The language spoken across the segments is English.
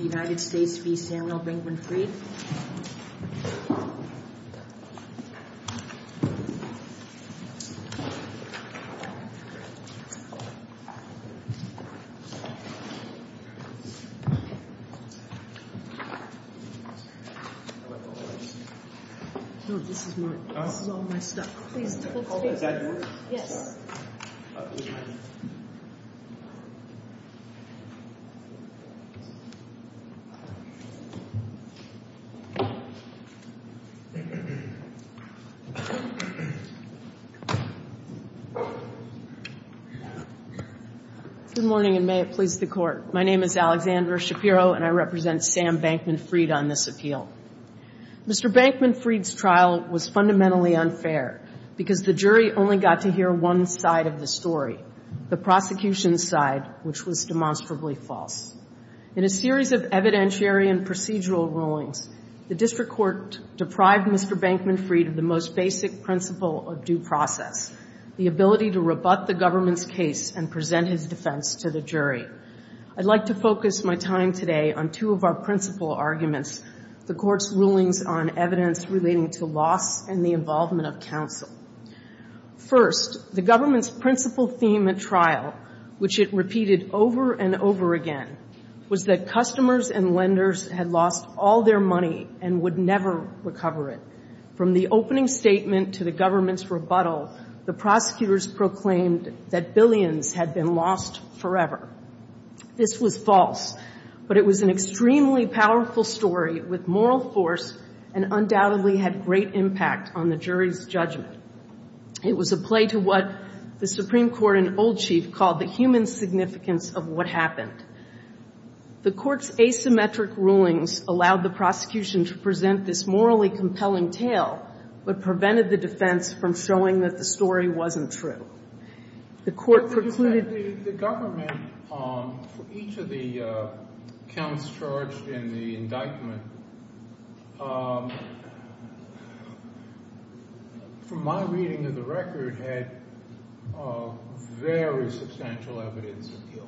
United States v. Samuel Bankman-Fried Good morning, and may it please the Court. My name is Alexandra Shapiro, and I represent Sam Bankman-Fried on this appeal. Mr. Bankman-Fried's trial was fundamentally unfair because the jury only got to hear one side of the story, the prosecution's side, which was demonstrably false. In a series of evidentiary and procedural rulings, the district court deprived Mr. Bankman-Fried of the most basic principle of due process, the ability to rebut the government's case and present his defense to the jury. I'd like to focus my time today on two of our principal arguments, the Court's rulings on evidence relating to loss and the involvement of counsel. First, the government's principal theme at trial, which it repeated over and over again, was that customers and lenders had lost all their money and would never recover it. From the opening statement to the government's rebuttal, the prosecutors proclaimed that billions had been lost forever. This was false, but it was an extremely powerful story with moral force and undoubtedly had great impact on the jury's judgment. It was a play to what the Supreme Court and old chief called the human significance of what happened. The Court's asymmetric rulings allowed the prosecution to present this morally compelling tale, but prevented the defense from showing that the story wasn't true. The Court precluded- The government, for each of the counts charged in the indictment, from my reading of the record, had very substantial evidence of guilt.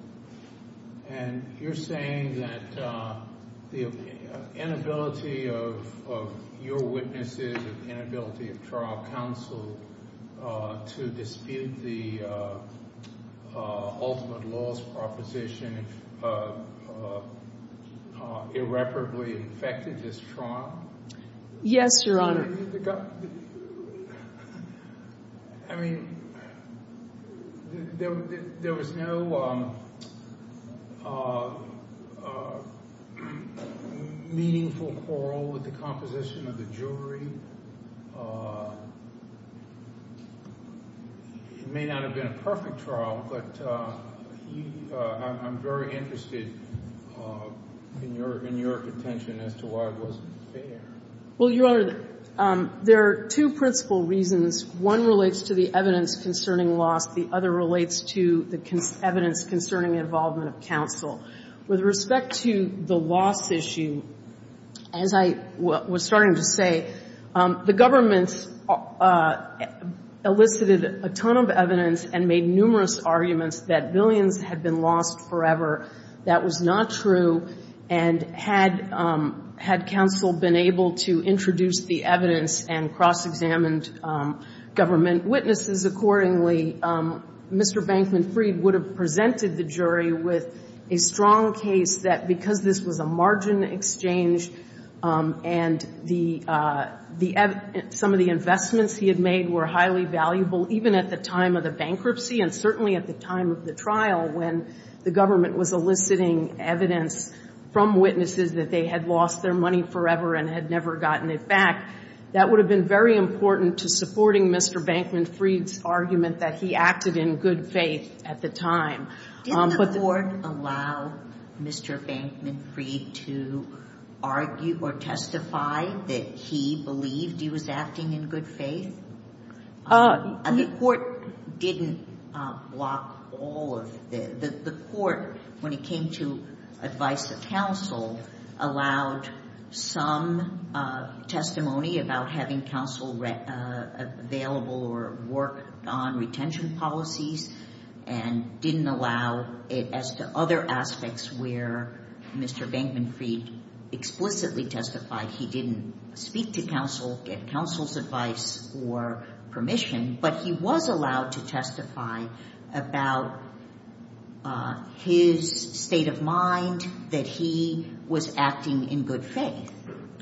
And you're saying that the inability of your ultimate loss proposition irreparably affected this trial? Yes, Your Honor. I mean, there was no meaningful quarrel with the composition of the jury. It may not have been a perfect trial, but I'm very interested in your contention as to why it wasn't fair. Well, Your Honor, there are two principal reasons. One relates to the evidence concerning loss. The other relates to the evidence concerning involvement of counsel. With respect to the loss issue, as I was starting to say, the government elicited a ton of evidence and made numerous arguments that billions had been lost forever. That was not true. And had counsel been able to introduce the evidence and cross-examined government witnesses accordingly, Mr. Bankman Freed would have presented the jury with a strong case that because this was a margin exchange and some of the investments he had made were highly valuable, even at the time of the bankruptcy and certainly at the time of the trial when the government was eliciting evidence from witnesses that they had lost their money forever and had never gotten it back, that would have been very important to supporting Mr. Bankman Freed's argument that he acted in good faith at the time. Did the Court allow Mr. Bankman Freed to argue or testify that he believed he was acting in good faith? The Court didn't block all of this. The Court, when it came to advice of counsel, allowed some testimony about having counsel available or work on retention policies and didn't allow it as to other aspects where Mr. Bankman Freed explicitly testified he didn't speak to counsel, get counsel's advice or permission. But he was allowed to testify about his state of mind, that he was acting in good faith.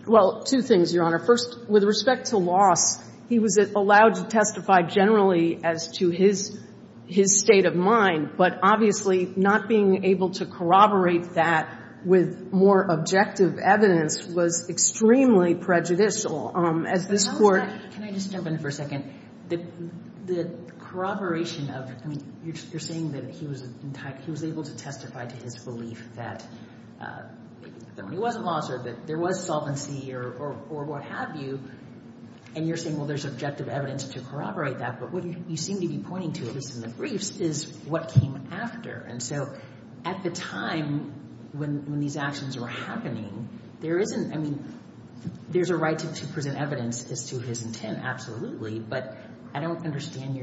Well, two things, Your Honor. First, with respect to loss, he was allowed to testify generally as to his state of mind, but obviously not being able to corroborate that with more objective evidence was extremely prejudicial. Can I just jump in for a second? The corroboration of, I mean, you're saying that he was able to testify to his belief that the money wasn't lost or that there was solvency or what have you, and you're saying, well, there's objective evidence to corroborate that, but what you seem to be pointing to, at least in the briefs, is what came after. And so at the time when these actions were happening, there isn't, I mean, there's a right to present evidence as to his intent, absolutely, but I don't understand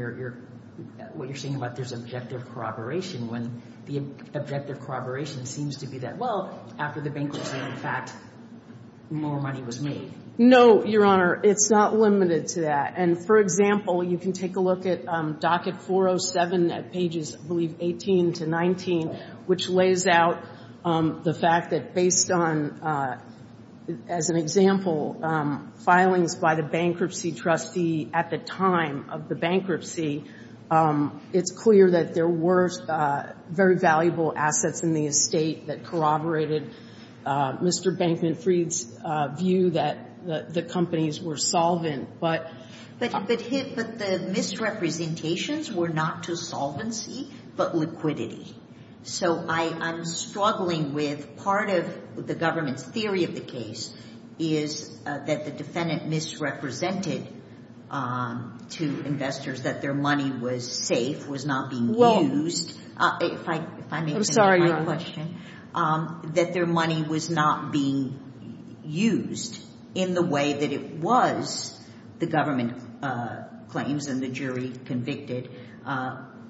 what you're saying about there's objective corroboration when the objective corroboration seems to be that, well, after the bankruptcy, in fact, more money was made. No, Your Honor. It's not limited to that. And for example, you can take a look at docket 407 at pages, I believe, 18 to 19, which lays out the fact that based on, as an example, filings by the bankruptcy trustee at the time of the bankruptcy, it's clear that there were very valuable assets in the estate that corroborated Mr. Bankman-Fried's view that the companies were solvent. But the misrepresentations were not to solvency, but liquidity. So I'm struggling with part of the government's theory of the case is that the defendant misrepresented to investors that their money was safe, was not being used. I'm sorry, Your Honor. That their money was not being used in the way that it was, the government claims and the jury convicted,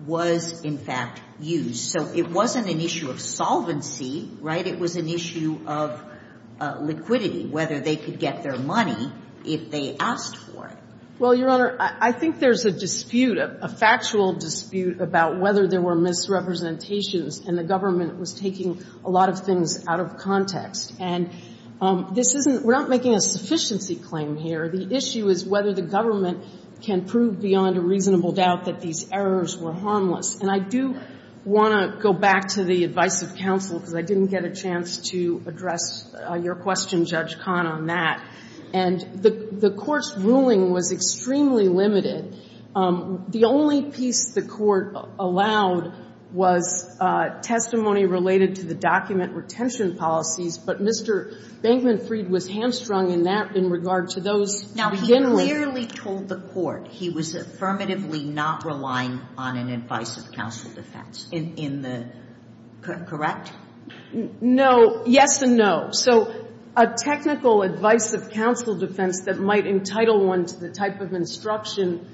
was, in fact, used. So it wasn't an issue of solvency, right? It was an issue of liquidity, whether they could get their money if they asked for it. Well, Your Honor, I think there's a dispute, a factual dispute about whether there were misrepresentations and the government was taking a lot of things out of context. And this isn't, we're not making a sufficiency claim here. The issue is whether the government can prove beyond a reasonable doubt that these errors were harmless. And I do want to go back to the advice of counsel, because I didn't get a chance to address your question, Judge Kahn, on that. And the Court's ruling was extremely limited. The only piece the Court allowed was testimony related to the document retention policies, but Mr. Bankman-Freed was hamstrung in that, in regard to those Now, he clearly told the Court he was affirmatively not relying on an advice of counsel defense in the, correct? No, yes and no. So a technical advice of counsel defense that might entitle one to the type of instruction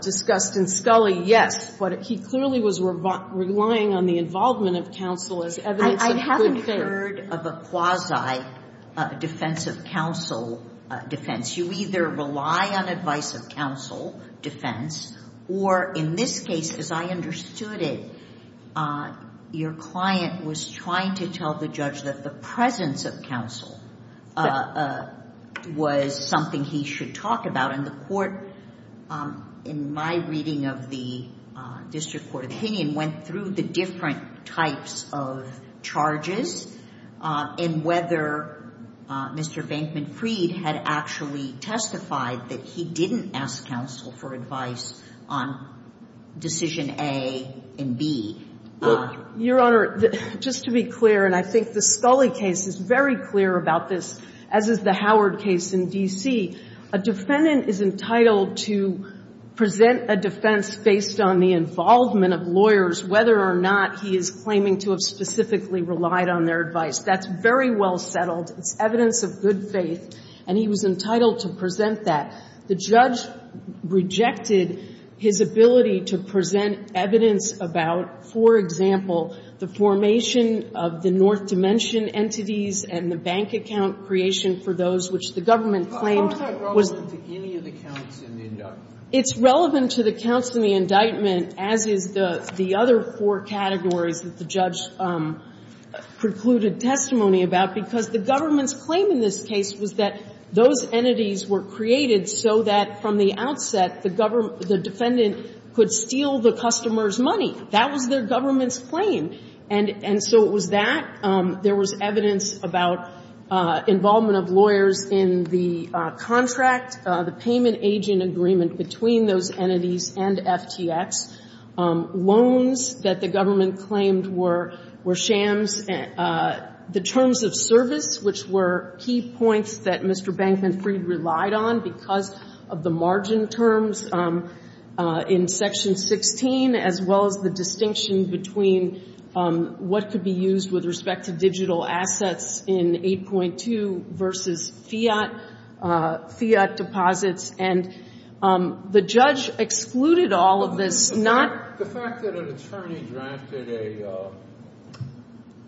discussed in Scully, yes, but he clearly was relying on the involvement of counsel as evidence of good faith. I haven't heard of a quasi-defense of counsel defense. You either rely on advice of counsel defense, or in this case, as I understood it, your client may not have advised counsel defense. And the Court, in my reading of the district court opinion, went through the different types of charges, and whether Mr. Bankman-Freed had actually testified that he didn't ask counsel for advice on decision A and B. Your Honor, just to be clear, and I think the Scully case is very clear about this, as is the Howard case in D.C., a defendant is entitled to present a defense based on the involvement of lawyers, whether or not he is claiming to have specifically relied on their advice. That's very well settled. It's evidence of good faith, and he was entitled to present that. The judge rejected his ability to present evidence about, for example, the formation of the North Dimension entities and the bank account creation for those which the government claimed was the beginning of the counts in the indictment. It's relevant to the counts in the indictment, as is the other four categories that the judge precluded testimony about, because the government's claim in this case was that those entities were created so that, from the outset, the defendant could steal the customer's money. That was their government's claim. And so it was that. There was evidence about involvement of lawyers in the contract, the payment agent agreement between those entities and FTX, loans that the government claimed were shams, the terms of service, which were key points that Mr. Bankman Freed relied on because of the margin terms in Section 16, as well as the distinction between what could be used with respect to digital assets in 8.2 versus fiat, fiat deposits. And the judge excluded all of this. The fact that an attorney drafted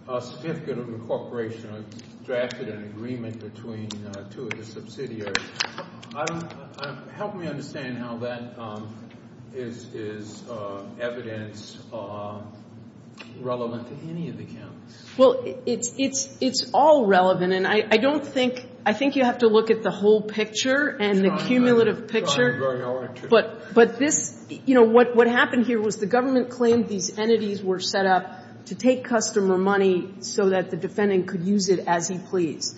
a certificate of incorporation or drafted an agreement between two of the subsidiaries, help me understand how that is evidence relevant to any of the counts. Well, it's all relevant. And I don't think, I think you have to look at the whole picture and the cumulative picture. But this, you know, what happened here was the government claimed these entities were set up to take customer money so that the defendant could use it as he pleased.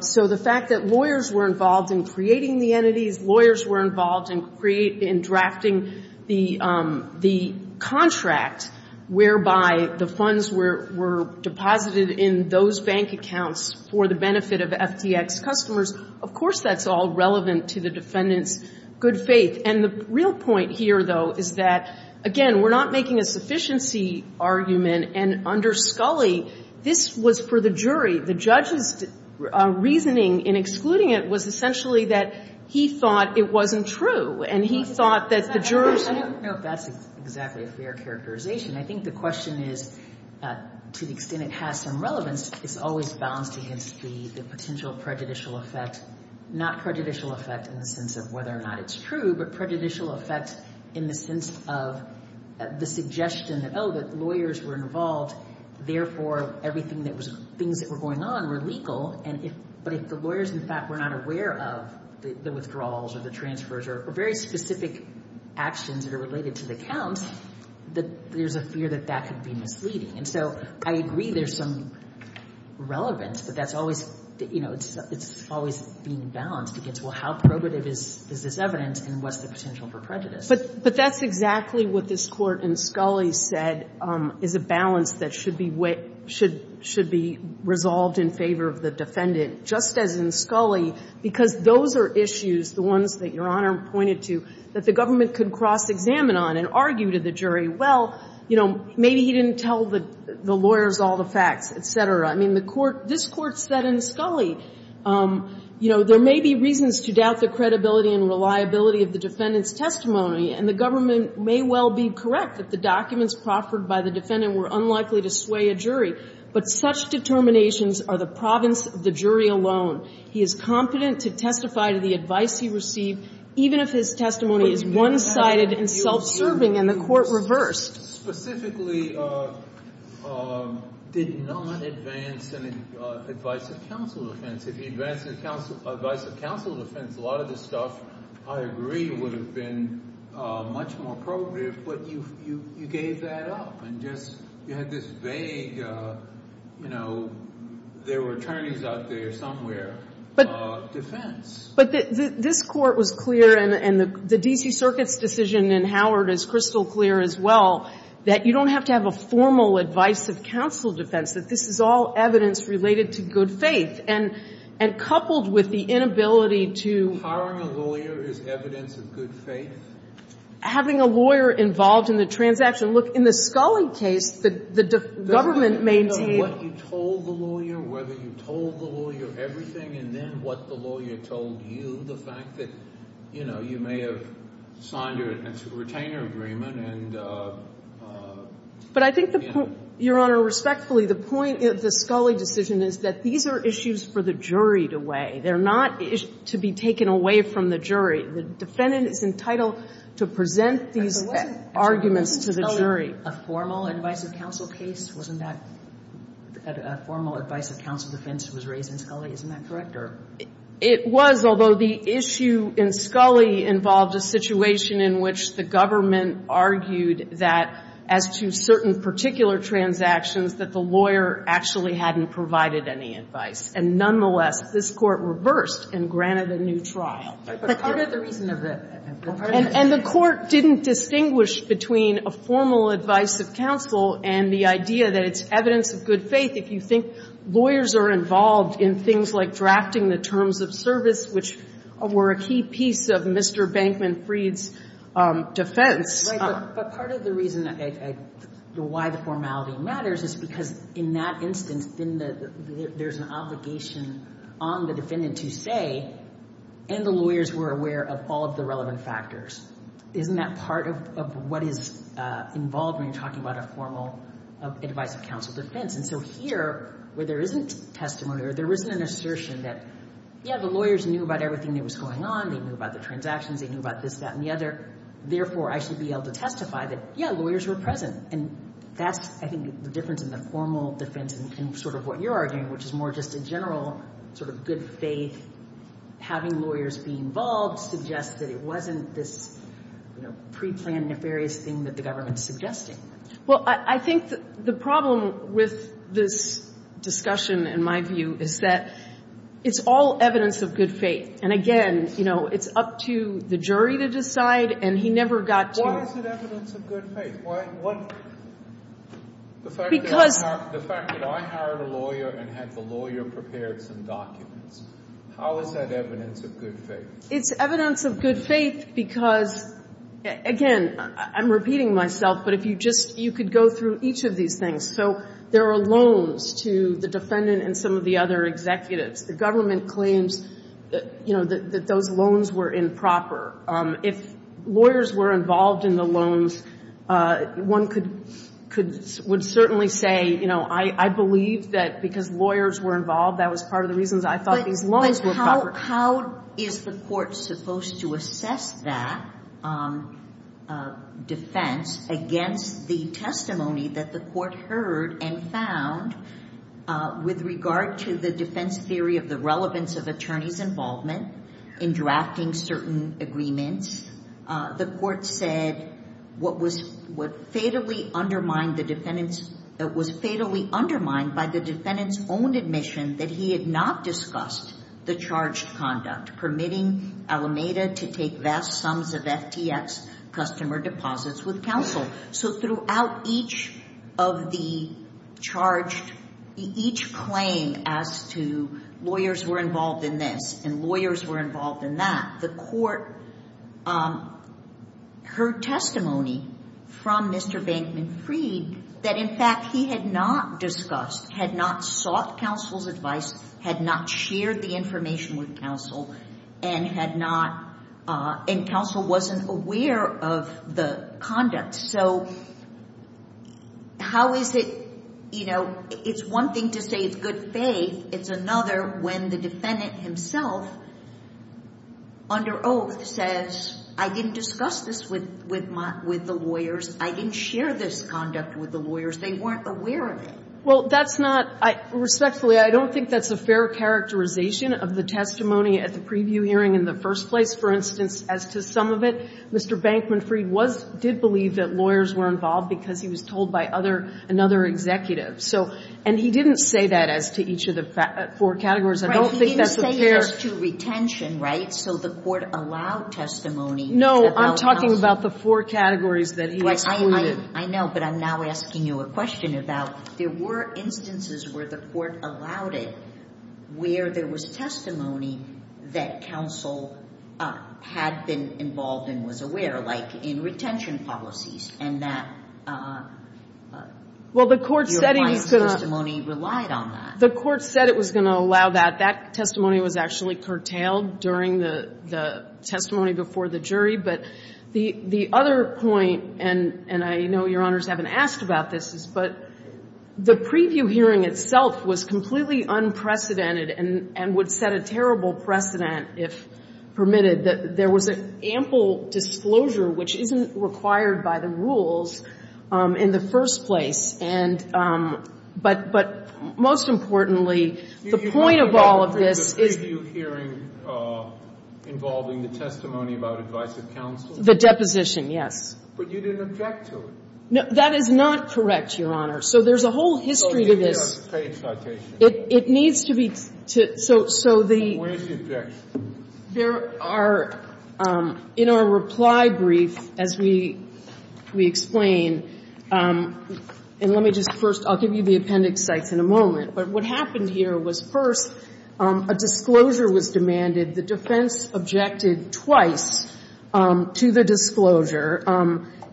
So the fact that lawyers were involved in creating the entities, lawyers were involved in drafting the contract whereby the funds were deposited in those bank accounts for the benefit of FTX customers, of course, that's all relevant to the defendant's good faith. And the real point here, though, is that, again, we're not making a sufficiency argument. And under the jury, the judge's reasoning in excluding it was essentially that he thought it wasn't true. And he thought that the jurors... I don't know if that's exactly a fair characterization. I think the question is, to the extent it has some relevance, it's always balanced against the potential prejudicial effect, not prejudicial effect in the sense of whether or not it's true, but prejudicial effect in the sense of the suggestion that, oh, the lawyers were involved, therefore everything that was, things that were going on were legal. But if the lawyers, in fact, were not aware of the withdrawals or the transfers or very specific actions that are related to the count, there's a fear that that could be misleading. And so I agree there's some relevance, but that's always, you know, it's always being balanced against, well, how probative is this evidence and what's the potential for prejudice? But that's exactly what this Court in Scully said is a balance that should be resolved in favor of the defendant, just as in Scully, because those are issues, the ones that Your Honor pointed to, that the government could cross-examine on and argue to the contrary. I mean, he didn't tell the lawyers all the facts, et cetera. I mean, the Court, this Court said in Scully, you know, there may be reasons to doubt the credibility and reliability of the defendant's testimony, and the government may well be correct that the documents proffered by the defendant were unlikely to sway a jury, but such even if his testimony is one-sided and self-serving and the Court reversed. Specifically did not advance an advice of counsel defense. If he advanced an advice of counsel defense, a lot of this stuff, I agree, would have been much more probative, but you gave that up and just, you had this vague, you know, there were attorneys out there somewhere, defense. But this Court was clear, and the D.C. Circuit's decision in Howard is crystal clear as well, that you don't have to have a formal advice of counsel defense, that this is all evidence related to good faith, and coupled with the inability to Hiring a lawyer is evidence of good faith? Having a lawyer involved in the transaction. Look, in the Scully case, the government maintained. What you told the lawyer, whether you told the lawyer everything, and then what the lawyer told you, the fact that, you know, you may have signed a retainer agreement and, you know. But I think, Your Honor, respectfully, the point of the Scully decision is that these are issues for the jury to weigh. They're not to be taken away from the jury. The defendant is entitled to present these arguments to the jury. A formal advice of counsel case? Wasn't that a formal advice of counsel defense that was raised in Scully? Isn't that correct? It was, although the issue in Scully involved a situation in which the government argued that, as to certain particular transactions, that the lawyer actually hadn't provided any advice. And nonetheless, this Court reversed and granted a new trial. But part of the reason of the... And the Court didn't distinguish between a formal advice of counsel and the idea that it's evidence of good faith. If you think lawyers are involved in things like drafting the terms of service, which were a key piece of Mr. Bankman Freed's defense... Right. But part of the reason why the formality matters is because, in that instance, then there's an obligation on the defendant to say, and the lawyers were aware of all the relevant factors. Isn't that part of what is involved when you're talking about a formal advice of counsel defense? And so here, where there isn't testimony or there isn't an assertion that, yeah, the lawyers knew about everything that was going on. They knew about the transactions. They knew about this, that, and the other. Therefore, I should be able to testify that, yeah, lawyers were present. And that's, I think, the difference in the formal defense and sort of what you're arguing, which is more just a general sort of good faith, having lawyers be involved in the thing. whether it's in the case itself, suggests that it wasn't this, you know, preplanned nefarious thing that the government is suggesting. Well, I think the problem with this discussion, in my view, is that it's all evidence of good faith. And again, you know, it's up to the jury to decide, and he never got to... The fact that I hired a lawyer and had the lawyer prepare some documents, how is that evidence of good faith? It's evidence of good faith because, again, I'm repeating myself, but if you just, you could go through each of these things. So there are loans to the defendant and some of the other executives. The government claims, you know, that those loans were improper. If lawyers were involved in the loans, one could certainly say, you know, I believe that because lawyers were involved, that was part of the reasons I thought these loans were improper. But how is the court supposed to assess that defense against the testimony that the court heard and found with regard to the defense theory of the relevance of attorney's involvement in drafting certain agreements? The court said what was fatally undermined by the defendant's own admission that he had not discussed the charged conduct, permitting Alameda to take vast sums of FTX customer deposits with counsel. So throughout each of the charged, each claim as to lawyers were involved in this and lawyers were involved in that, the court heard testimony from Mr. Bankman Freed that, in fact, he had not discussed, had not sought counsel's advice, had not shared the information with counsel, and had not, and counsel wasn't aware of the conduct. So how is it, you know, it's one thing to say it's good faith. It's another when the defendant himself under oath says, I didn't discuss this with the lawyers. I didn't share this conduct with the lawyers. They weren't aware of it. Well, that's not, respectfully, I don't think that's a fair characterization of the testimony at the preview hearing in the first place. For instance, as to some of it, Mr. Bankman Freed was, did believe that lawyers were involved because he was told by other, another executive. So, and he didn't say that as to each of the four categories. I don't think that's a fair. He didn't say just to retention, right? So the court allowed testimony. No, I'm talking about the four categories that he excluded. I know, but I'm now asking you a question about, there were instances where the court allowed it, where there was testimony that counsel had been involved and was aware, like in retention policies, and that your client's testimony relied on that. Well, the court said it was going to allow that. That testimony was actually curtailed during the testimony before the jury. But the other point, and I know Your Honors haven't asked about this, but the preview hearing itself was completely unprecedented and would set a terrible precedent if permitted. There was an ample disclosure, which isn't required by the rules, in the first place. And, but most importantly, the point of all of this is. You had the preview hearing involving the testimony about advice of counsel? The deposition, yes. But you didn't object to it. No, that is not correct, Your Honor. So there's a whole history to this. It needs to be. So the. Where's the objection? There are, in our reply brief, as we explain, and let me just first, I'll give you the appendix sites in a moment, but what happened here was, first, a disclosure was demanded. The defense objected twice to the disclosure.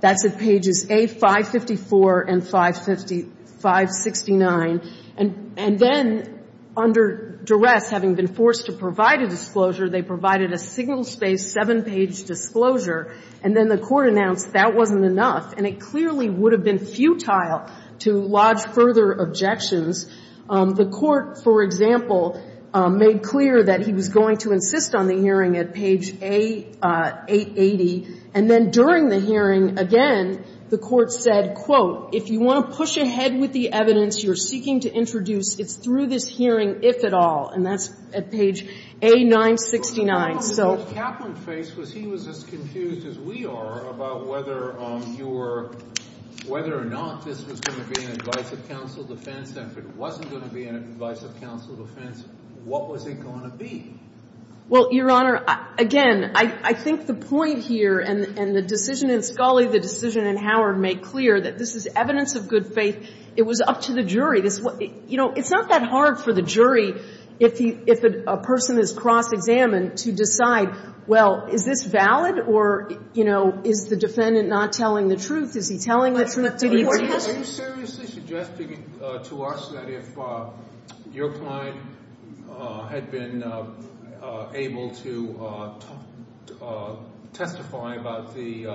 That's at pages A554 and 569. And then, under duress, having been forced to provide a disclosure, they provided a single-space, seven-page disclosure. And then the Court announced that wasn't enough, and it clearly would have been futile to lodge further objections. The Court, for example, made clear that he was going to insist on the hearing at page A880. And then during the hearing, again, the Court said, quote, if you want to push ahead with the evidence you're seeking to introduce, it's through this hearing, if at all. And that's at page A969. But the problem that Kaplan faced was he was as confused as we are about whether you were, whether or not this was going to be an advice of counsel defense. And if it wasn't going to be an advice of counsel defense, what was it going to be? Well, Your Honor, again, I think the point here, and the decision in Scully, the decision in Howard, make clear that this is evidence of good faith. It was up to the jury. You know, it's not that hard for the jury, if a person is cross-examined, to decide, well, is this valid, or, you know, is the defendant not telling the truth? Is he telling the truth? Are you seriously suggesting to us that if your client had been able to testify about the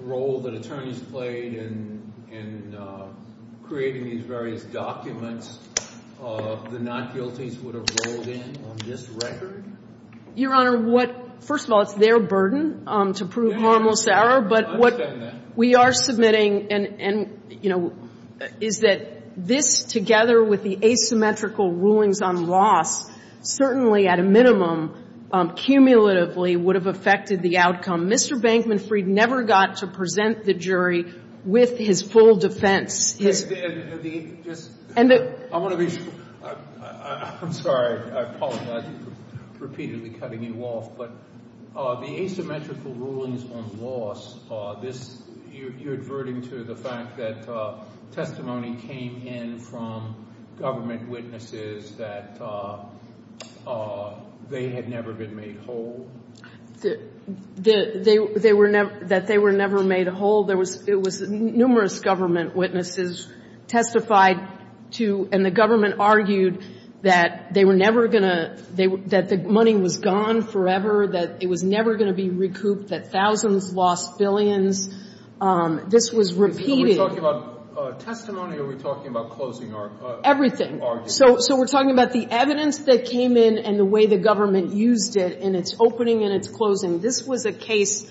role that attorneys played in creating these various documents, the not-guilties would have rolled in on this record? Your Honor, what – first of all, it's their burden to prove harmless error. I understand that. But what we are submitting, and, you know, is that this, together with the asymmetrical rulings on loss, certainly at a minimum, cumulatively would have affected the outcome. Mr. Bankman Freed never got to present the jury with his full defense. His – And the – I want to be – I'm sorry. I apologize for repeatedly cutting you off. But the asymmetrical rulings on loss, this – you're adverting to the fact that testimony came in from government witnesses that they had never been made whole? They were never – that they were never made whole. There was – it was numerous government witnesses testified to – and the government argued that they were never going to – that the money was gone forever, that it was never going to be recouped, that thousands lost billions. This was repeated. Are we talking about testimony or are we talking about closing arguments? Everything. So we're talking about the evidence that came in and the way the government used it in its opening and its closing. This was a case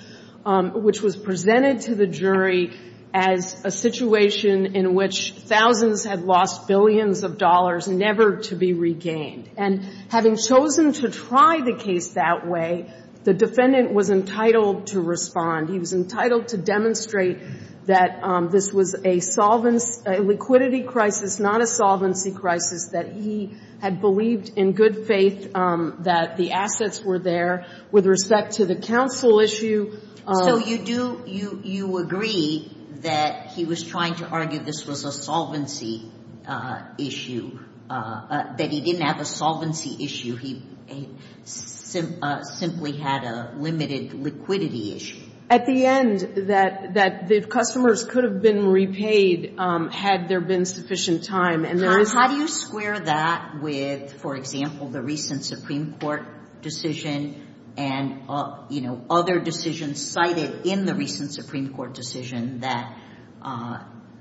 which was presented to the jury as a situation in which thousands had lost billions of dollars, never to be regained. And having chosen to try the case that way, the defendant was entitled to respond. He was entitled to demonstrate that this was a solvency – a liquidity crisis, not a solvency crisis, that he had believed in good faith that the assets were there. With respect to the counsel issue – So you do – you agree that he was trying to argue this was a solvency issue, that he didn't have a solvency issue. He simply had a limited liquidity issue. At the end, that the customers could have been repaid had there been sufficient time, and there is – How do you square that with, for example, the recent Supreme Court decision and, you know, other decisions cited in the recent Supreme Court decision that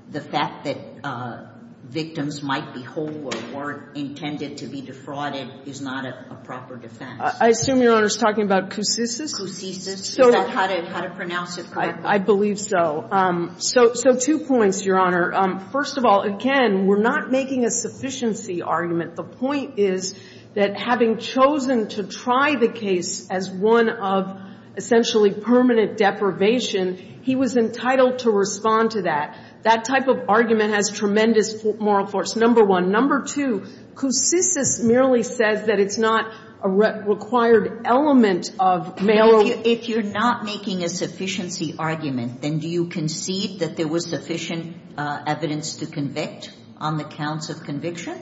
the fact that victims might be hold or intended to be defrauded is not a proper defense? I assume Your Honor is talking about coupsicis? Coupsicis. Is that how to pronounce it correctly? I believe so. So two points, Your Honor. First of all, again, we're not making a sufficiency argument. The point is that having chosen to try the case as one of essentially permanent deprivation, he was entitled to respond to that. That type of argument has tremendous moral force, number one. Number two, coupsicis merely says that it's not a required element of male – If you're not making a sufficiency argument, then do you concede that there was sufficient evidence to convict on the counts of conviction?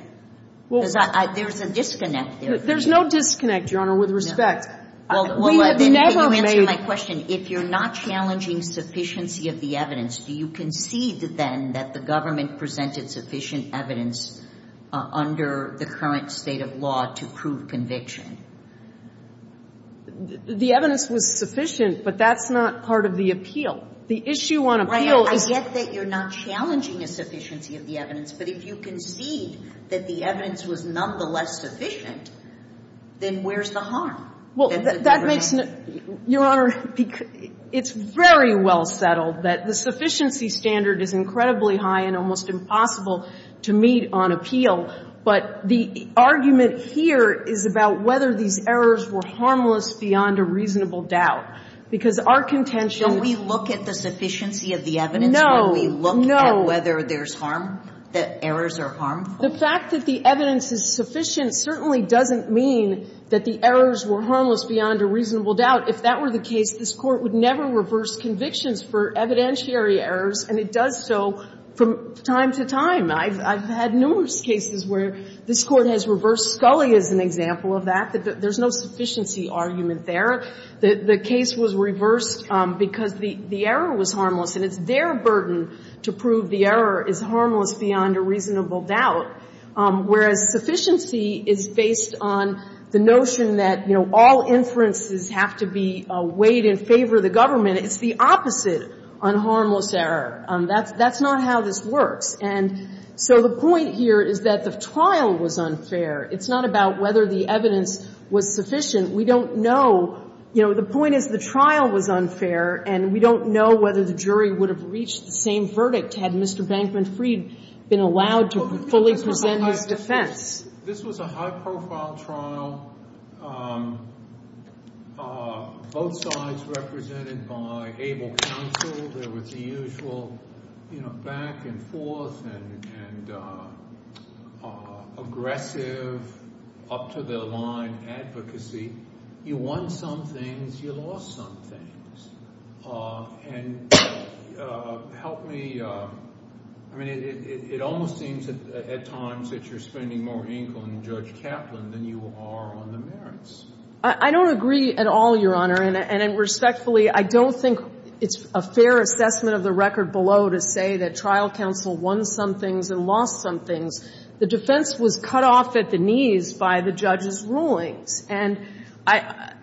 Because there's a disconnect there. There's no disconnect, Your Honor, with respect. No. We have never made – Well, let me answer my question. If you're not challenging sufficiency of the evidence, do you concede then that the government presented sufficient evidence under the current state of law to prove conviction? The evidence was sufficient, but that's not part of the appeal. The issue on appeal is – I get that you're not challenging a sufficiency of the evidence. But if you concede that the evidence was nonetheless sufficient, then where's the harm? Well, that makes – Your Honor, it's very well settled that the sufficiency standard is incredibly high and almost impossible to meet on appeal. But the argument here is about whether these errors were harmless beyond a reasonable doubt, because our contention – Don't we look at the sufficiency of the evidence when we look at whether there's harm, that errors are harmful? The fact that the evidence is sufficient certainly doesn't mean that the errors were harmless beyond a reasonable doubt. If that were the case, this Court would never reverse convictions for evidentiary errors, and it does so from time to time. I've had numerous cases where this Court has reversed Scully as an example of that. There's no sufficiency argument there. The case was reversed because the error was harmless, and it's their burden to prove the error is harmless beyond a reasonable doubt, whereas sufficiency is based on the notion that, you know, all inferences have to be weighed in favor of the government. It's the opposite on harmless error. That's not how this works. And so the point here is that the trial was unfair. It's not about whether the evidence was sufficient. We don't know – you know, the point is the trial was unfair, and we don't know whether the jury would have reached the same verdict had Mr. Bankman-Fried been allowed to fully present his defense. This was a high-profile trial, both sides represented by able counsel. There was the usual, you know, back and forth and aggressive, up-to-the-line advocacy. You won some things. You lost some things. And help me – I mean, it almost seems at times that you're spending more ink on Judge Kaplan than you are on the merits. I don't agree at all, Your Honor, and respectfully, I don't think it's a fair assessment of the record below to say that trial counsel won some things and lost some things. The defense was cut off at the knees by the judge's rulings. And I –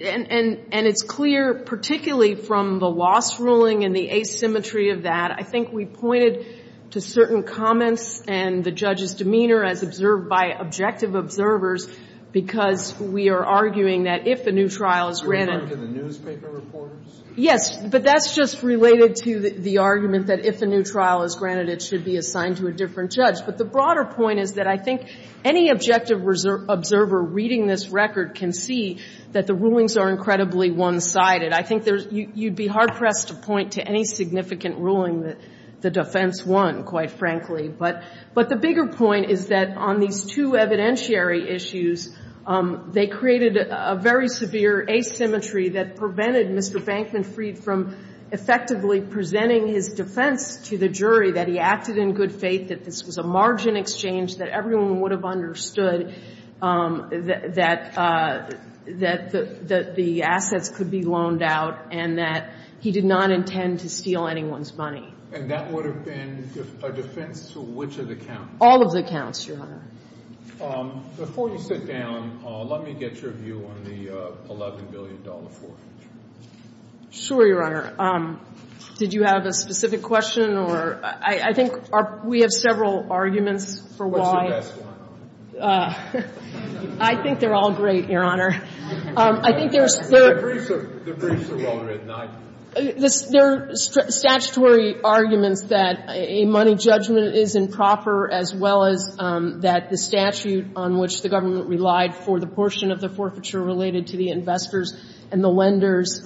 and it's clear, particularly from the loss ruling and the asymmetry of that, I think we pointed to certain comments and the judge's demeanor as observed by objective observers because we are arguing that if a new trial is granted – Are you referring to the newspaper reporters? Yes, but that's just related to the argument that if a new trial is granted, it should be assigned to a different judge. But the broader point is that I think any objective observer reading this record can see that the rulings are incredibly one-sided. I think there's – you'd be hard-pressed to point to any significant ruling that the defense won, quite frankly. But the bigger point is that on these two evidentiary issues, they created a very severe asymmetry that prevented Mr. Bankman Freed from effectively presenting his defense to the jury that he acted in good faith, that this was a margin exchange, that everyone would have understood that the assets could be loaned out, and that he did not intend to steal anyone's money. And that would have been a defense to which of the counts? All of the counts, Your Honor. Before you sit down, let me get your view on the $11 billion forfeiture. Sure, Your Honor. Did you have a specific question or – I think we have several arguments for why. What's the best one? I think they're all great, Your Honor. I think there's – The briefs are well-written. There are statutory arguments that a money judgment is improper, as well as that the statute on which the government relied for the portion of the forfeiture related to the investors and the lenders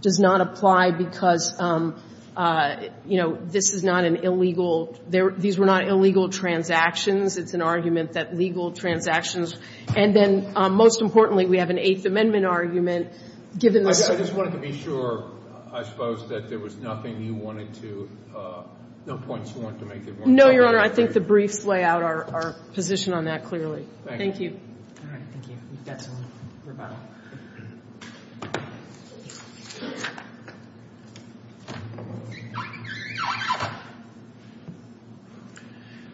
does not apply because, you know, this is not an illegal – these were not illegal transactions. It's an argument that legal transactions – and then, most importantly, we have an Eighth Amendment argument given the – I just wanted to be sure, I suppose, that there was nothing you wanted to – no points you wanted to make that weren't – No, Your Honor. I think the briefs lay out our position on that clearly. Thank you. All right. Thank you. We've got some rebuttal.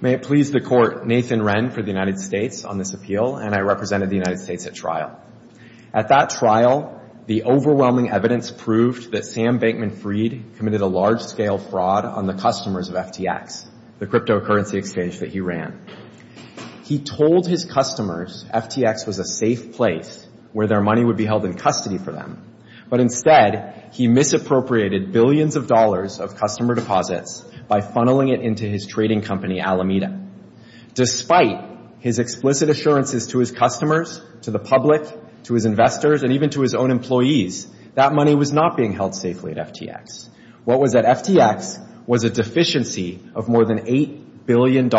May it please the Court, Nathan Wren for the United States on this appeal, and I represented the United States at trial. At that trial, the overwhelming evidence proved that Sam Bankman Freed committed a large-scale fraud on the customers of FTX, the cryptocurrency exchange that he ran. He told his customers FTX was a safe place where their money would be held in custody for them, but instead he misappropriated billions of dollars of customer deposits by funneling it into his trading company, Alameda. Despite his explicit assurances to his customers, to the public, to his investors, and even to his own employees, that money was not being held safely at FTX. What was at FTX was a deficiency of more than $8 billion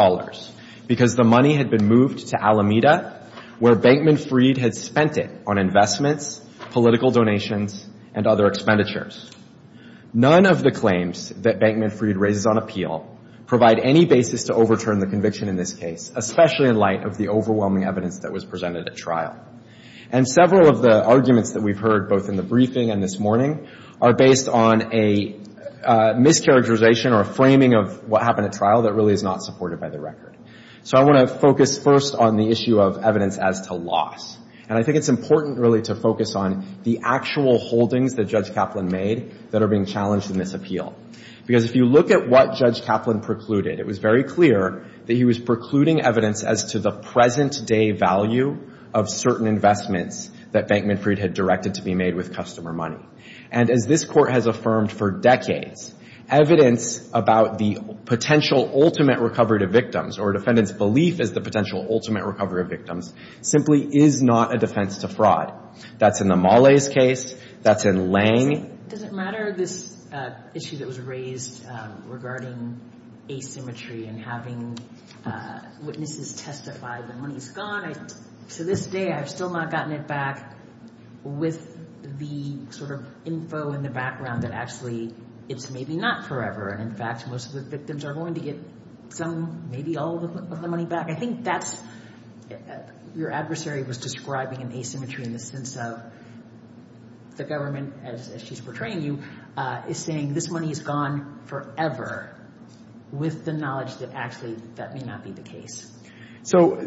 because the money had been moved to Alameda, where Bankman Freed had spent it on investments, political donations, and other expenditures. None of the claims that Bankman Freed raises on appeal provide any basis to overturn the conviction in this case, especially in light of the overwhelming evidence that was presented at trial. And several of the arguments that we've heard, both in the briefing and this morning, are based on a mischaracterization or a framing of what happened at trial that really is not supported by the record. So I want to focus first on the issue of evidence as to loss. And I think it's important, really, to focus on the actual holdings that Judge Kaplan made that are being challenged in this appeal. Because if you look at what Judge Kaplan precluded, it was very clear that he was precluding evidence as to the present-day value of certain investments that Bankman Freed had directed to be made with customer money. And as this Court has affirmed for decades, evidence about the potential ultimate recovery to victims or a defendant's belief as the potential ultimate recovery of victims simply is not a defense to fraud. That's in the Molle's case. That's in Lange. Does it matter, this issue that was raised regarding asymmetry and having witnesses testify the money's gone? To this day, I've still not gotten it back with the sort of info in the background that actually it's maybe not forever. And, in fact, most of the victims are going to get some, maybe all of the money back. I think that's your adversary was describing an asymmetry in the sense of the government, as she's portraying you, is saying this money is gone forever with the knowledge that actually that may not be the case. So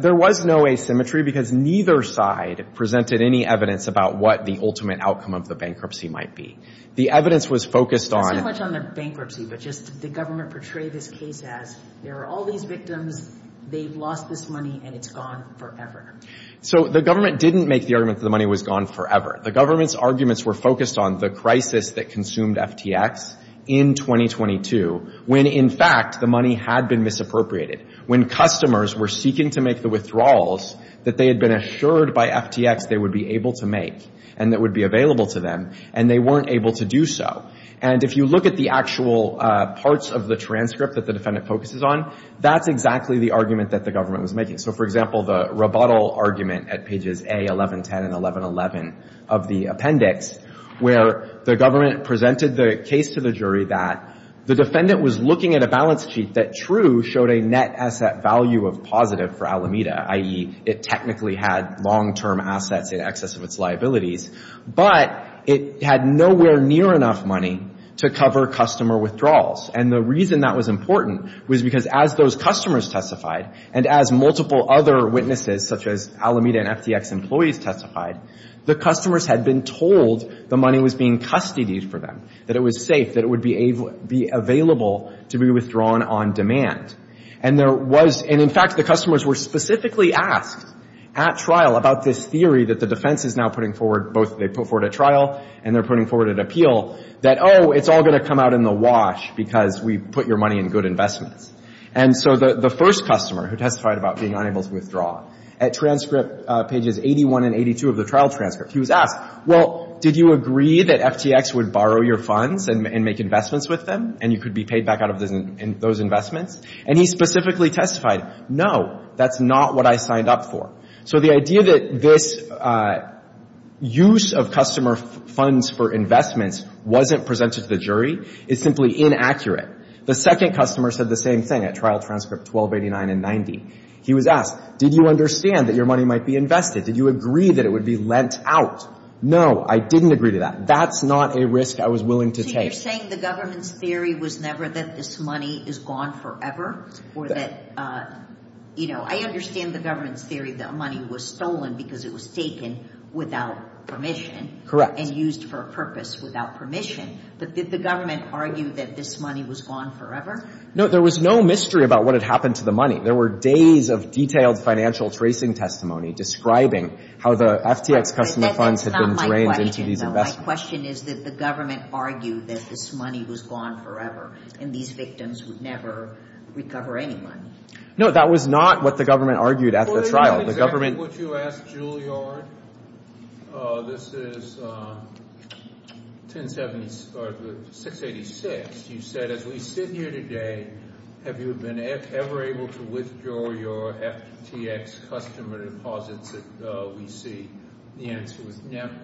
there was no asymmetry because neither side presented any evidence about what the ultimate outcome of the bankruptcy might be. The evidence was focused on— Not so much on the bankruptcy, but just the government portrayed this case as there are all these victims, they've lost this money, and it's gone forever. So the government didn't make the argument that the money was gone forever. The government's arguments were focused on the crisis that consumed FTX in 2022, when, in fact, the money had been misappropriated, when customers were seeking to make the withdrawals that they had been assured by FTX they would be able to make and that would be available to them, and they weren't able to do so. And if you look at the actual parts of the transcript that the defendant focuses on, that's exactly the argument that the government was making. So, for example, the rebuttal argument at pages A, 1110, and 1111 of the appendix, where the government presented the case to the jury that the defendant was looking at a balance sheet that, true, showed a net asset value of positive for Alameda, i.e., it technically had long-term assets in excess of its liabilities, but it had nowhere near enough money to cover customer withdrawals. And the reason that was important was because as those customers testified and as multiple other witnesses, such as Alameda and FTX employees testified, the customers had been told the money was being custodied for them, that it was safe, that it would be available to be withdrawn on demand. And there was – and, in fact, the customers were specifically asked at trial about this theory that the defense is now putting forward, both they put forward at trial and they're putting forward at appeal, that, oh, it's all going to come out in the wash because we put your money in good investments. And so the first customer who testified about being unable to withdraw, at transcript pages 81 and 82 of the trial transcript, he was asked, well, did you agree that FTX would borrow your funds and make investments with them and you could be paid back out of those investments? And he specifically testified, no, that's not what I signed up for. So the idea that this use of customer funds for investments wasn't presented to the jury is simply inaccurate. The second customer said the same thing at trial transcript 1289 and 90. He was asked, did you understand that your money might be invested? Did you agree that it would be lent out? No, I didn't agree to that. That's not a risk I was willing to take. So you're saying the government's theory was never that this money is gone forever or that, you know, I understand the government's theory that money was stolen because it was taken without permission. And used for a purpose without permission. But did the government argue that this money was gone forever? No, there was no mystery about what had happened to the money. There were days of detailed financial tracing testimony describing how the FTX customer funds had been drained into these investments. My question is, did the government argue that this money was gone forever and these victims would never recover any money? No, that was not what the government argued at the trial. That's exactly what you asked, Juilliard. This is 1070, or 686. You said, as we sit here today, have you been ever able to withdraw your FTX customer deposits that we see? The answer was never.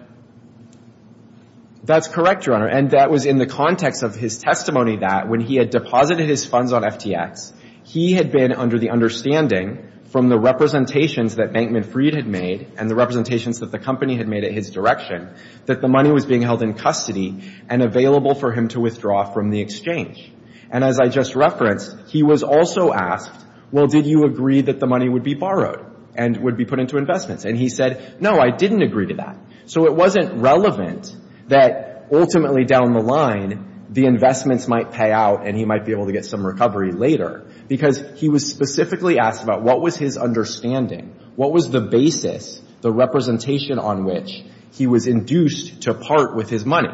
That's correct, Your Honor, and that was in the context of his testimony that when he had deposited his funds on FTX, he had been under the understanding from the representations that Bankman Freed had made and the representations that the company had made at his direction that the money was being held in custody and available for him to withdraw from the exchange. And as I just referenced, he was also asked, well, did you agree that the money would be borrowed and would be put into investments? And he said, no, I didn't agree to that. So it wasn't relevant that ultimately down the line the investments might pay out and he might be able to get some recovery later because he was specifically asked about what was his understanding, what was the basis, the representation on which he was induced to part with his money.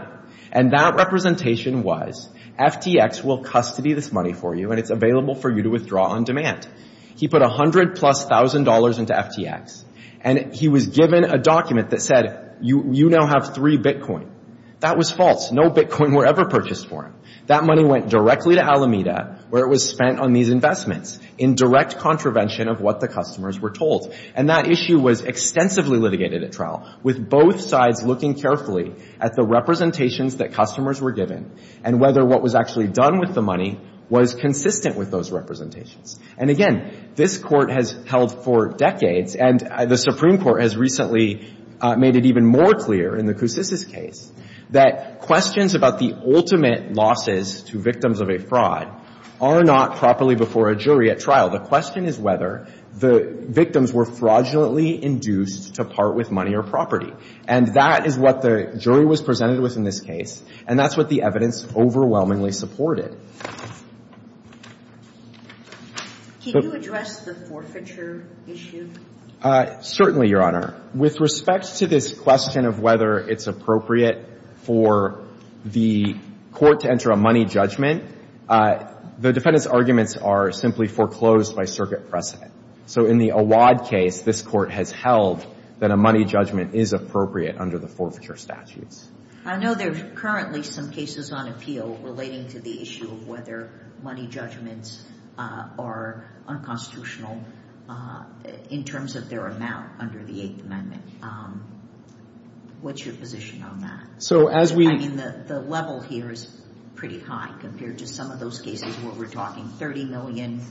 And that representation was, FTX will custody this money for you and it's available for you to withdraw on demand. He put $100,000 plus into FTX and he was given a document that said, you now have three Bitcoin. That was false. No Bitcoin were ever purchased for him. That money went directly to Alameda where it was spent on these investments in direct contravention of what the customers were told. And that issue was extensively litigated at trial with both sides looking carefully at the representations that customers were given and whether what was actually done with the money was consistent with those representations. And again, this court has held for decades and the Supreme Court has recently made it even more clear in the Kousisis case that questions about the ultimate losses to victims of a fraud are not properly before a jury at trial. The question is whether the victims were fraudulently induced to part with money or property. And that is what the jury was presented with in this case and that's what the evidence overwhelmingly supported. Can you address the forfeiture issue? Certainly, Your Honor. With respect to this question of whether it's appropriate for the court to enter a money judgment, the defendant's arguments are simply foreclosed by circuit precedent. So in the Awad case, this court has held that a money judgment is appropriate under the forfeiture statutes. I know there are currently some cases on appeal relating to the issue of whether money judgments are unconstitutional in terms of their amount under the Eighth Amendment. What's your position on that? I mean, the level here is pretty high compared to some of those cases where we're talking 30 million.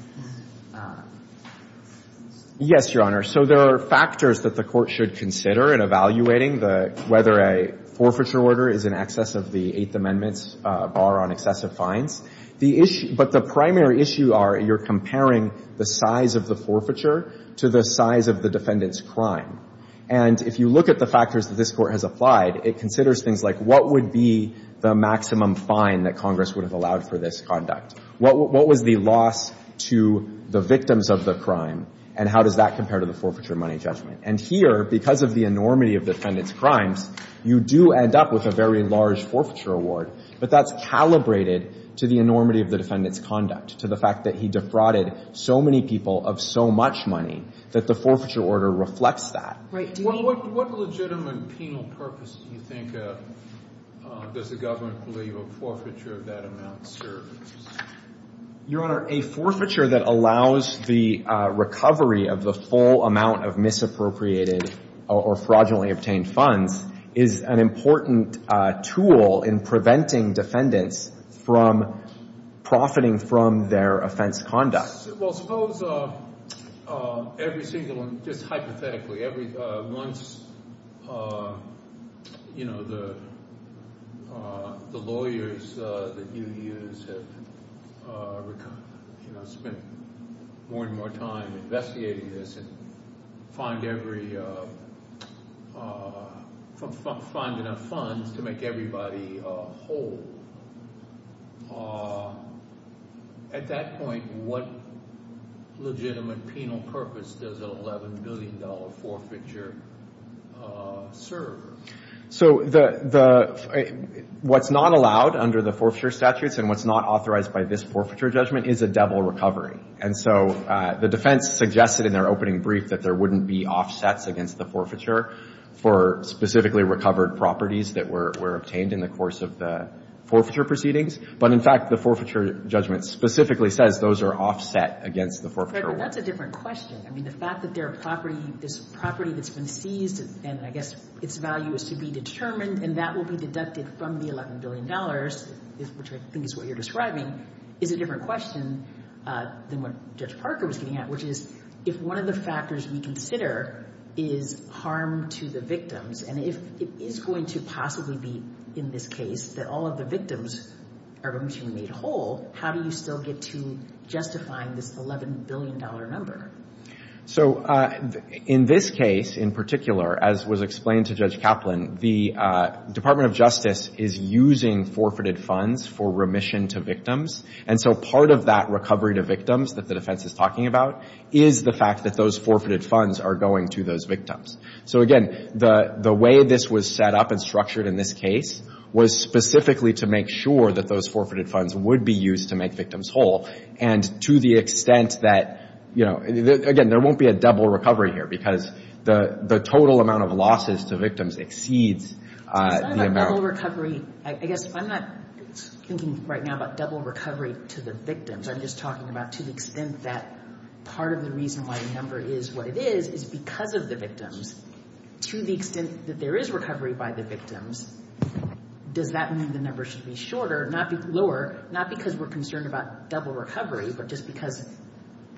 Yes, Your Honor. So there are factors that the court should consider in evaluating whether a forfeiture order is in excess of the Eighth Amendment's bar on excessive fines. But the primary issue are you're comparing the size of the forfeiture to the size of the defendant's crime. And if you look at the factors that this court has applied, it considers things like, what would be the maximum fine that Congress would have allowed for this conduct? What was the loss to the victims of the crime? And how does that compare to the forfeiture money judgment? And here, because of the enormity of the defendant's crimes, you do end up with a very large forfeiture award. But that's calibrated to the enormity of the defendant's conduct, to the fact that he defrauded so many people of so much money that the forfeiture order reflects that. Well, what legitimate penal purpose do you think does the government believe a forfeiture of that amount serves? Your Honor, a forfeiture that allows the recovery of the full amount of misappropriated or fraudulently obtained funds is an important tool in preventing defendants from profiting from their offense conduct. Well, suppose every single one, just hypothetically, once the lawyers that you use have spent more and more time investigating this and finding out funds to make everybody whole, at that point, what legitimate penal purpose does an $11 billion forfeiture serve? So what's not allowed under the forfeiture statutes and what's not authorized by this forfeiture judgment is a double recovery. And so the defense suggested in their opening brief that there wouldn't be offsets against the forfeiture for specifically recovered properties that were obtained in the course of the forfeiture proceedings. But, in fact, the forfeiture judgment specifically says those are offset against the forfeiture. But that's a different question. I mean, the fact that there are property, this property that's been seized and I guess its value is to be determined and that will be deducted from the $11 billion, which I think is what you're describing, is a different question than what Judge Parker was getting at, which is if one of the factors we consider is harm to the victims and if it is going to possibly be in this case that all of the victims are going to be made whole, how do you still get to justifying this $11 billion number? So in this case in particular, as was explained to Judge Kaplan, the Department of Justice is using forfeited funds for remission to victims. And so part of that recovery to victims that the defense is talking about is the fact that those forfeited funds are going to those victims. So again, the way this was set up and structured in this case was specifically to make sure that those forfeited funds would be used to make victims whole. And to the extent that, you know, again, there won't be a double recovery here because the total amount of losses to victims exceeds the amount... It's not about double recovery. I guess I'm not thinking right now about double recovery to the victims. I'm just talking about to the extent that part of the reason why a number is what it is is because of the victims. To the extent that there is recovery by the victims, does that mean the number should be shorter, not be lower, not because we're concerned about double recovery, but just because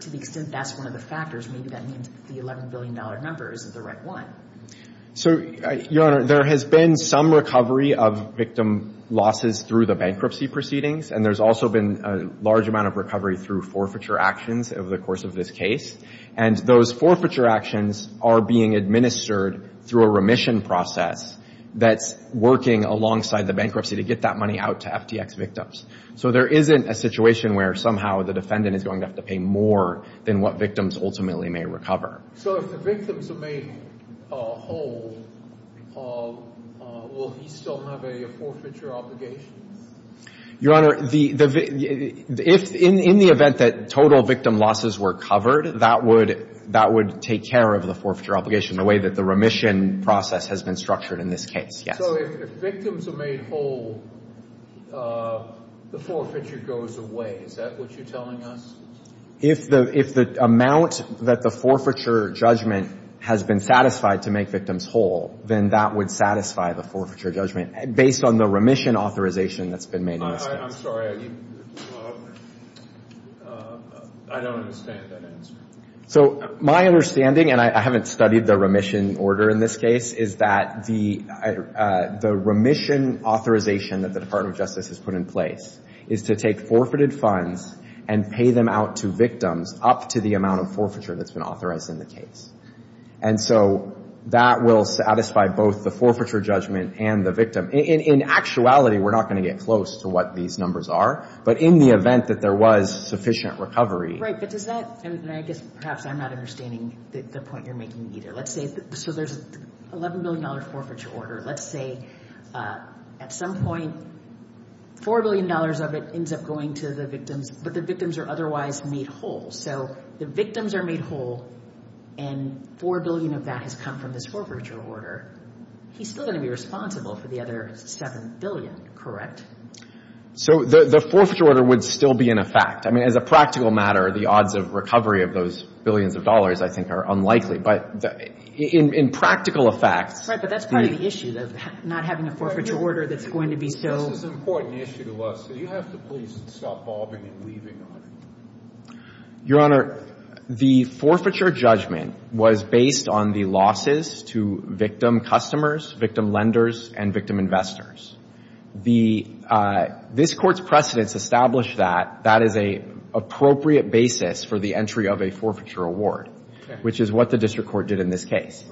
to the extent that's one of the factors, maybe that means the $11 billion number is the right one. So, Your Honor, there has been some recovery of victim losses through the bankruptcy proceedings, and there's also been a large amount of recovery through forfeiture actions over the course of this case. And those forfeiture actions are being administered through a remission process that's working alongside the bankruptcy to get that money out to FTX victims. So there isn't a situation where somehow the defendant is going to have to pay more than what victims ultimately may recover. So if the victims are made whole, will he still have a forfeiture obligation? Your Honor, the... In the event that total victim losses were covered, that would take care of the forfeiture obligation in the way that the remission process has been structured in this case, yes. So if the victims are made whole, the forfeiture goes away. Is that what you're telling us? If the amount that the forfeiture judgment has been satisfied to make victims whole, then that would satisfy the forfeiture judgment based on the remission authorization that's been made in this case. I'm sorry. I don't understand that answer. So my understanding, and I haven't studied the remission order in this case, is that the remission authorization that the Department of Justice has put in place is to take forfeited funds and pay them out to victims up to the amount of forfeiture that's been authorized in the case. And so that will satisfy both the forfeiture judgment and the victim. In actuality, we're not going to get close to what these numbers are. But in the event that there was sufficient recovery... Right, but does that... And I guess perhaps I'm not understanding the point you're making either. Let's say... So there's an $11 billion forfeiture order. Let's say, at some point, $4 billion of it ends up going to the victims, but the victims are otherwise made whole. So the victims are made whole, and $4 billion of that has come from this forfeiture order. He's still going to be responsible for the other $7 billion, correct? So the forfeiture order would still be in effect. I mean, as a practical matter, the odds of recovery of those billions of dollars, I think, are unlikely. But in practical effect... Right, but that's part of the issue, not having a forfeiture order that's going to be so... This is an important issue to us. Do you have to please stop bobbing and weaving on it? Your Honor, the forfeiture judgment was based on the losses to victim customers, victim lenders, and victim investors. This Court's precedents establish that that is an appropriate basis for the entry of a forfeiture award, which is what the district court did in this case.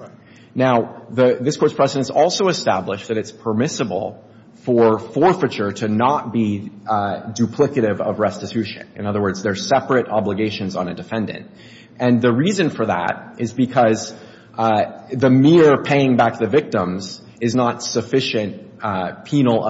Now, this Court's precedents also establish that it's permissible for forfeiture to not be duplicative of restitution. In other words, they're separate obligations on a defendant. And the reason for that is because the mere paying back the victims is not sufficient penal...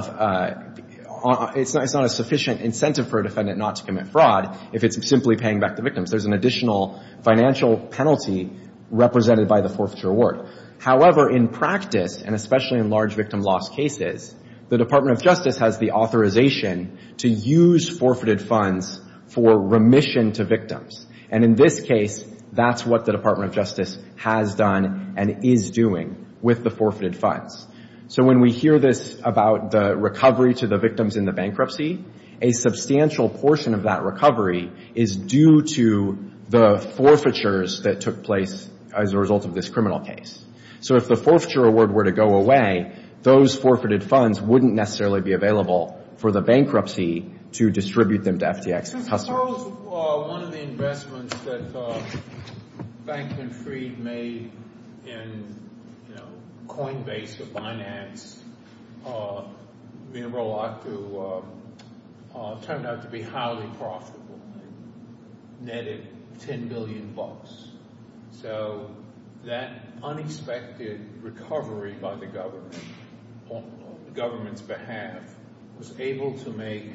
It's not a sufficient incentive for a defendant not to commit fraud if it's simply paying back the victims. There's an additional financial penalty represented by the forfeiture award. However, in practice, and especially in large victim loss cases, the Department of Justice has the authorization to use forfeited funds for remission to victims. And in this case, that's what the Department of Justice has done and is doing with the forfeited funds. So when we hear this about the recovery to the victims in the bankruptcy, a substantial portion of that recovery is due to the forfeitures that took place as a result of this criminal case. So if the forfeiture award were to go away, those forfeited funds wouldn't necessarily be available for the bankruptcy to distribute them to FTX customers. Charles, one of the investments that Bank and Freed made in, you know, Coinbase or Binance, turned out to be highly profitable and netted $10 billion. So that unexpected recovery by the government, on the government's behalf, was able to make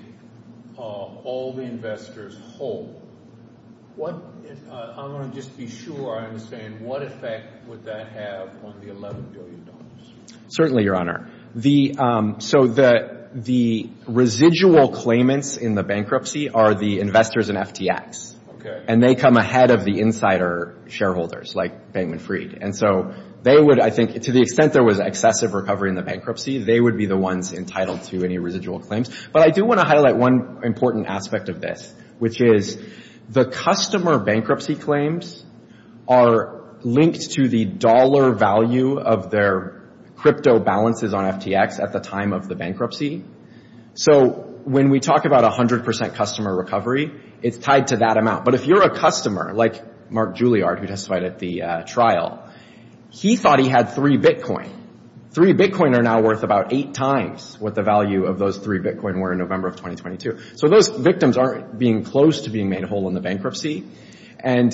all the investors whole. I want to just be sure I understand, what effect would that have on the $11 billion? Certainly, Your Honor. So the residual claimants in the bankruptcy are the investors in FTX. And they come ahead of the insider shareholders like Bank and Freed. And so they would, I think, to the extent there was excessive recovery in the bankruptcy, they would be the ones entitled to any residual claims. But I do want to highlight one important aspect of this, which is the customer bankruptcy claims are linked to the dollar value of their crypto balances on FTX at the time of the bankruptcy. So when we talk about 100% customer recovery, it's tied to that amount. But if you're a customer, like Mark Julliard, who testified at the trial, he thought he had three Bitcoin. Three Bitcoin are now worth about eight times what the value of those three Bitcoin were in November of 2022. So those victims aren't being close to being made whole in the bankruptcy. And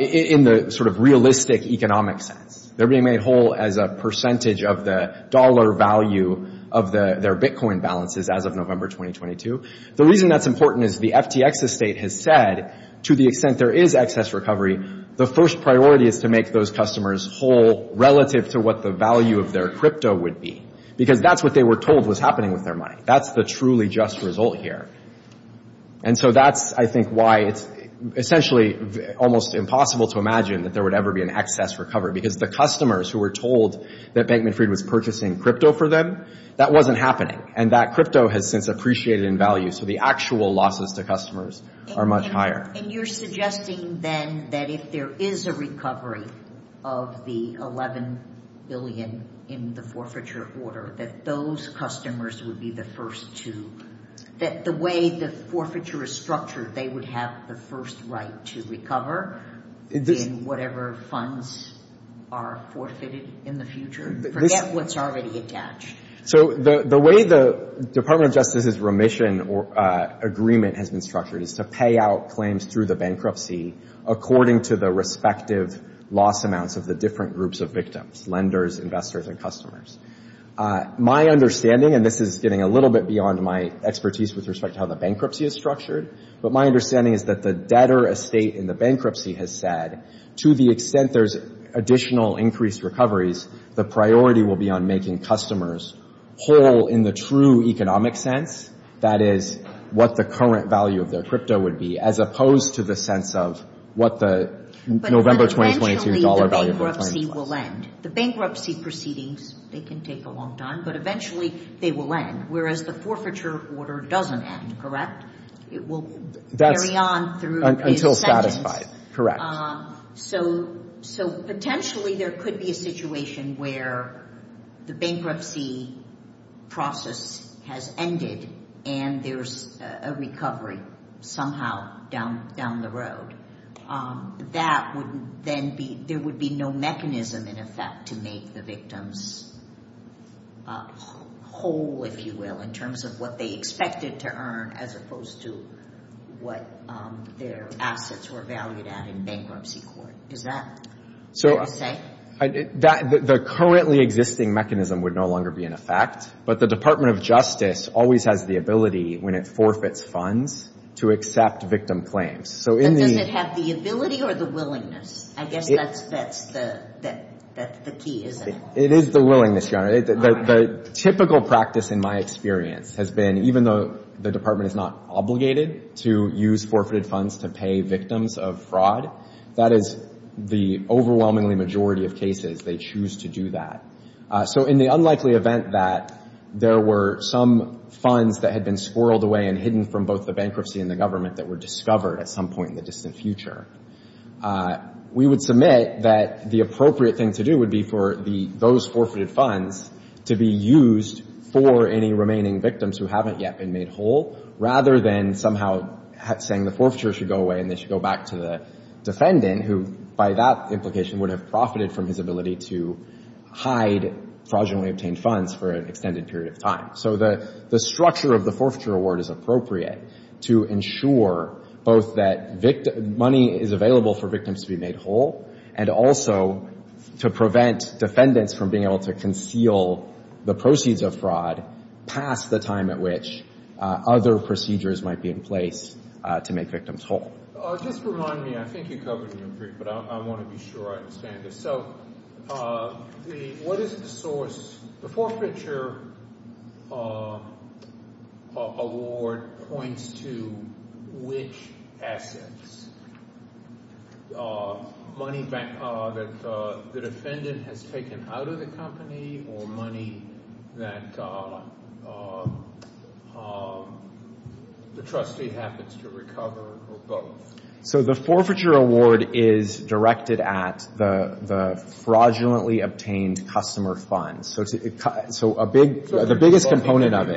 in the sort of realistic economic sense, they're being made whole as a percentage of the dollar value of their Bitcoin balances as of November 2022. The reason that's important is the FTX estate has said, to the extent there is excess recovery, the first priority is to make those customers whole relative to what the value of their crypto would be. Because that's what they were told was happening with their money. That's the truly just result here. And so that's, I think, why it's essentially almost impossible to imagine that there would ever be an excess recovery because the customers who were told that Bank Manfred was purchasing crypto for them, that wasn't happening. And that crypto has since appreciated in value. So the actual losses to customers are much higher. And you're suggesting then that if there is a recovery of the $11 billion in the forfeiture order, that those customers would be the first to, that the way the forfeiture is structured, they would have the first right to recover in whatever funds are forfeited in the future? Forget what's already attached. So the way the Department of Justice's remission or agreement has been structured is to pay out claims through the bankruptcy according to the respective loss amounts of the different groups of victims, lenders, investors, and customers. My understanding, and this is getting a little bit beyond my expertise with respect to how the bankruptcy is structured, but my understanding is that the debtor estate in the bankruptcy has said, to the extent there's additional increased recoveries, the priority will be on making customers whole in the true economic sense, that is, what the current value of their crypto would be, as opposed to the sense of what the November 2022 dollar value of the coin would be. But eventually the bankruptcy will end. The bankruptcy proceedings, they can take a long time, but eventually they will end, whereas the forfeiture order doesn't end, correct? It will carry on through the ascendance. Until satisfied, correct. So potentially there could be a situation where the bankruptcy process has ended and there's a recovery somehow down the road. That would then be, there would be no mechanism in effect to make the victims whole, if you will, in terms of what they expected to earn, as opposed to what their assets were valued at in bankruptcy court. Is that what you're saying? The currently existing mechanism would no longer be in effect, but the Department of Justice always has the ability, when it forfeits funds, to accept victim claims. But does it have the ability or the willingness? I guess that's the key, isn't it? It is the willingness, Your Honor. The typical practice in my experience has been, even though the department is not obligated to use forfeited funds to pay victims of fraud, that is the overwhelmingly majority of cases they choose to do that. So in the unlikely event that there were some funds that had been squirreled away and hidden from both the bankruptcy and the government that were discovered at some point in the distant future, we would submit that the appropriate thing to do would be for those forfeited funds to be used for any remaining victims who haven't yet been made whole, rather than somehow saying the forfeiture should go away and they should go back to the defendant, who by that implication would have profited from his ability to hide fraudulently obtained funds for an extended period of time. So the structure of the forfeiture award is appropriate to ensure both that money is available for victims to be made whole and also to prevent defendants from being able to conceal the proceeds of fraud past the time at which other procedures might be in place to make victims whole. Just remind me. I think you covered it in the brief, but I want to be sure I understand this. So what is the source? The forfeiture award points to which assets? Money that the defendant has taken out of the company or money that the trustee happens to recover or both? So the forfeiture award is directed at the fraudulently obtained customer funds. So the biggest component of it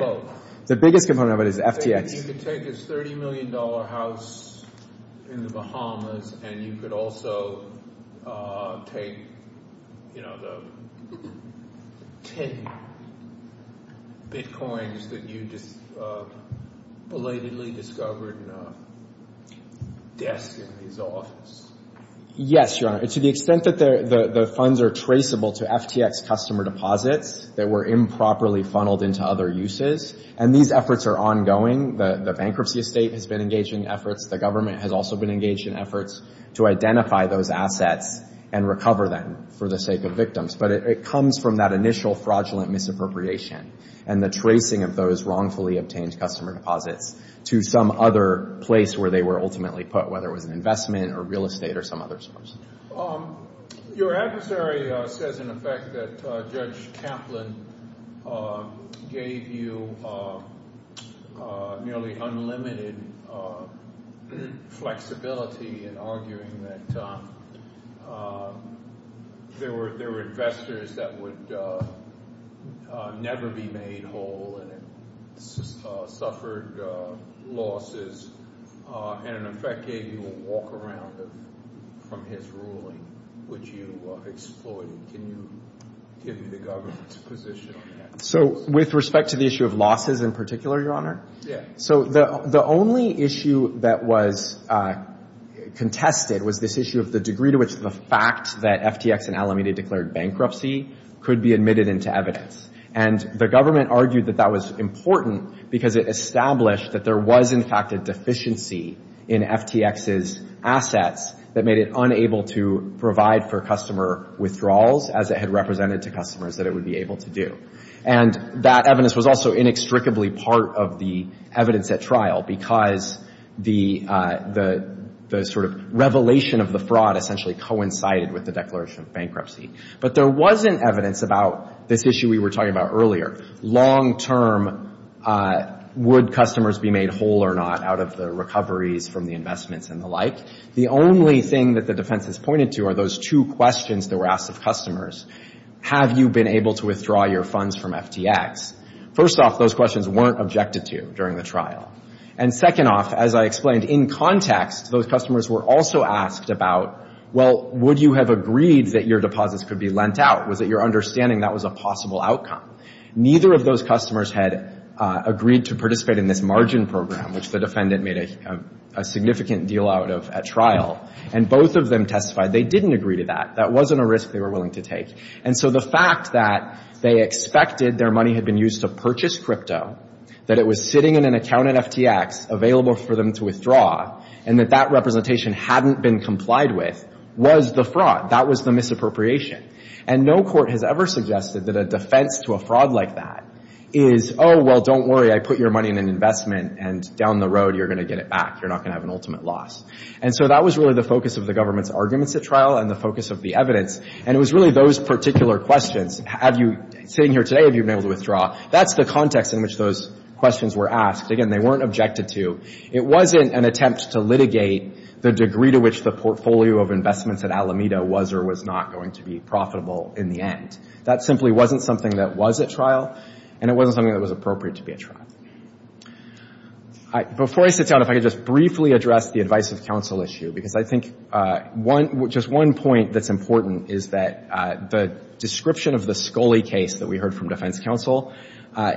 is FTX. You could take a $30 million house in the Bahamas and you could also take the 10 Bitcoins that you belatedly discovered in a desk in his office. Yes, Your Honor. To the extent that the funds are traceable to FTX customer deposits that were improperly funneled into other uses, and these efforts are ongoing. The bankruptcy estate has been engaged in efforts. The government has also been engaged in efforts to identify those assets and recover them for the sake of victims. But it comes from that initial fraudulent misappropriation and the tracing of those wrongfully obtained customer deposits to some other place where they were ultimately put, whether it was an investment or real estate or some other source. Your adversary says in effect that Judge Kaplan gave you nearly unlimited flexibility in arguing that there were investors that would never be made whole and suffered losses and in effect gave you a walk around from his ruling, which you exploited. Can you give me the government's position on that? So with respect to the issue of losses in particular, Your Honor? Yes. So the only issue that was contested was this issue of the degree to which the fact that FTX and Alameda declared bankruptcy could be admitted into evidence. And the government argued that that was important because it established that there was, in fact, a deficiency in FTX's assets that made it unable to provide for customer withdrawals as it had represented to customers that it would be able to do. And that evidence was also inextricably part of the evidence at trial because the sort of revelation of the fraud essentially coincided with the declaration of bankruptcy. But there wasn't evidence about this issue we were talking about earlier. Long-term, would customers be made whole or not out of the recoveries from the investments and the like? The only thing that the defense has pointed to are those two questions that were asked of customers. Have you been able to withdraw your funds from FTX? First off, those questions weren't objected to during the trial. And second off, as I explained, in context, those customers were also asked about, well, would you have agreed that your deposits could be lent out? Was it your understanding that was a possible outcome? Neither of those customers had agreed to participate in this margin program, which the defendant made a significant deal out of at trial. And both of them testified they didn't agree to that. That wasn't a risk they were willing to take. And so the fact that they expected their money had been used to purchase crypto, that it was sitting in an account in FTX available for them to withdraw, and that that representation hadn't been complied with, was the fraud. That was the misappropriation. And no court has ever suggested that a defense to a fraud like that is, oh, well, don't worry, I put your money in an investment, and down the road, you're going to get it back. You're not going to have an ultimate loss. And so that was really the focus of the government's arguments at trial and the focus of the evidence. And it was really those particular questions. Have you, sitting here today, have you been able to withdraw? That's the context in which those questions were asked. Again, they weren't objected to. It wasn't an attempt to litigate the degree to which the portfolio of investments at Alameda was or was not going to be profitable in the end. That simply wasn't something that was at trial, and it wasn't something that was appropriate to be at trial. Before I sit down, if I could just briefly address the advice of counsel issue, because I think just one point that's important is that the description of the Scully case that we heard from defense counsel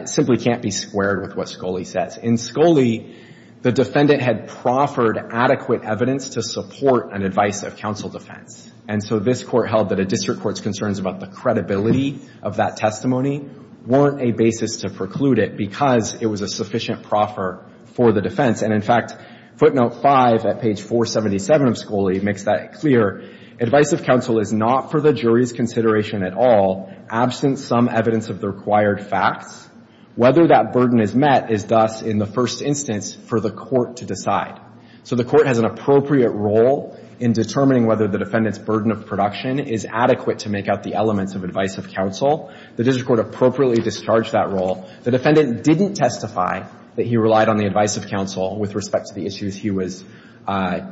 simply can't be squared with what Scully says. In Scully, the defendant had proffered adequate evidence to support an advice of counsel defense. And so this Court held that a district court's concerns about the credibility of that testimony weren't a basis to preclude it because it was a sufficient proffer for the defense. And, in fact, footnote 5 at page 477 of Scully makes that clear. Advice of counsel is not for the jury's consideration at all, absent some evidence of the required facts. Whether that burden is met is thus, in the first instance, for the court to decide. So the court has an appropriate role in determining whether the defendant's burden of production is adequate to make out the elements of advice of counsel. The district court appropriately discharged that role. The defendant didn't testify that he relied on the advice of counsel with respect to the issues he was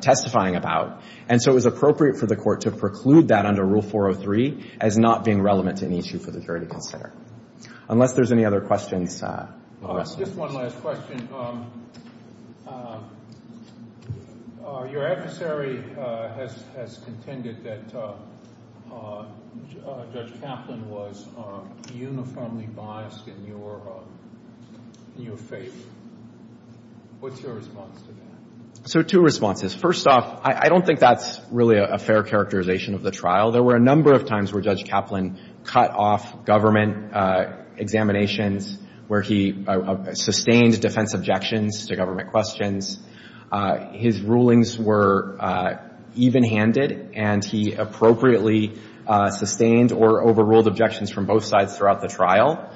testifying about. And so it was appropriate for the court to preclude that under Rule 403 as not being relevant to any issue for the jury to consider. Unless there's any other questions. Just one last question. Your adversary has contended that Judge Kaplan was uniformly biased in your favor. What's your response to that? So two responses. First off, I don't think that's really a fair characterization of the trial. There were a number of times where Judge Kaplan cut off government examinations, where he sustained defense objections to government questions. His rulings were even-handed, and he appropriately sustained or overruled objections from both sides throughout the trial.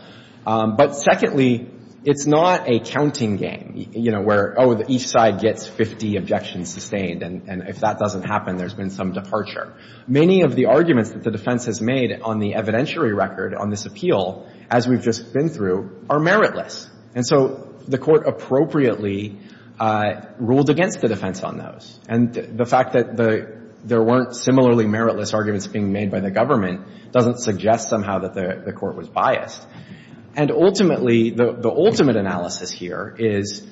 But secondly, it's not a counting game, you know, where, oh, each side gets 50 objections sustained, and if that doesn't happen, there's been some departure. Many of the arguments that the defense has made on the evidentiary record on this appeal, as we've just been through, are meritless. And so the court appropriately ruled against the defense on those. And the fact that there weren't similarly meritless arguments being made by the government doesn't suggest somehow that the court was biased. And ultimately, the ultimate analysis here is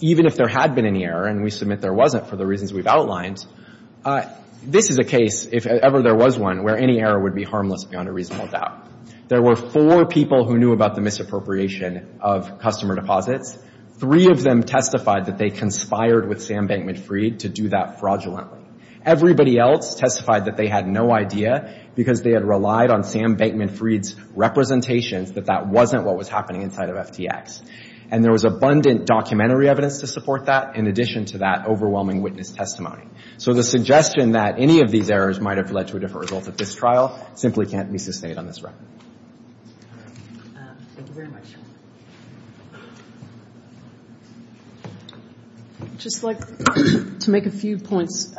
even if there had been any error, and we submit there wasn't for the reasons we've outlined, this is a case, if ever there was one, where any error would be harmless beyond a reasonable doubt. There were four people who knew about the misappropriation of customer deposits. Three of them testified that they conspired with Sam Bankman Freed to do that fraudulently. Everybody else testified that they had no idea because they had relied on Sam Bankman Freed's representations that that wasn't what was happening inside of FTX. And there was abundant documentary evidence to support that, in addition to that overwhelming witness testimony. So the suggestion that any of these errors might have led to a different result at this trial simply can't be sustained on this record. Thank you very much. I'd just like to make a few points.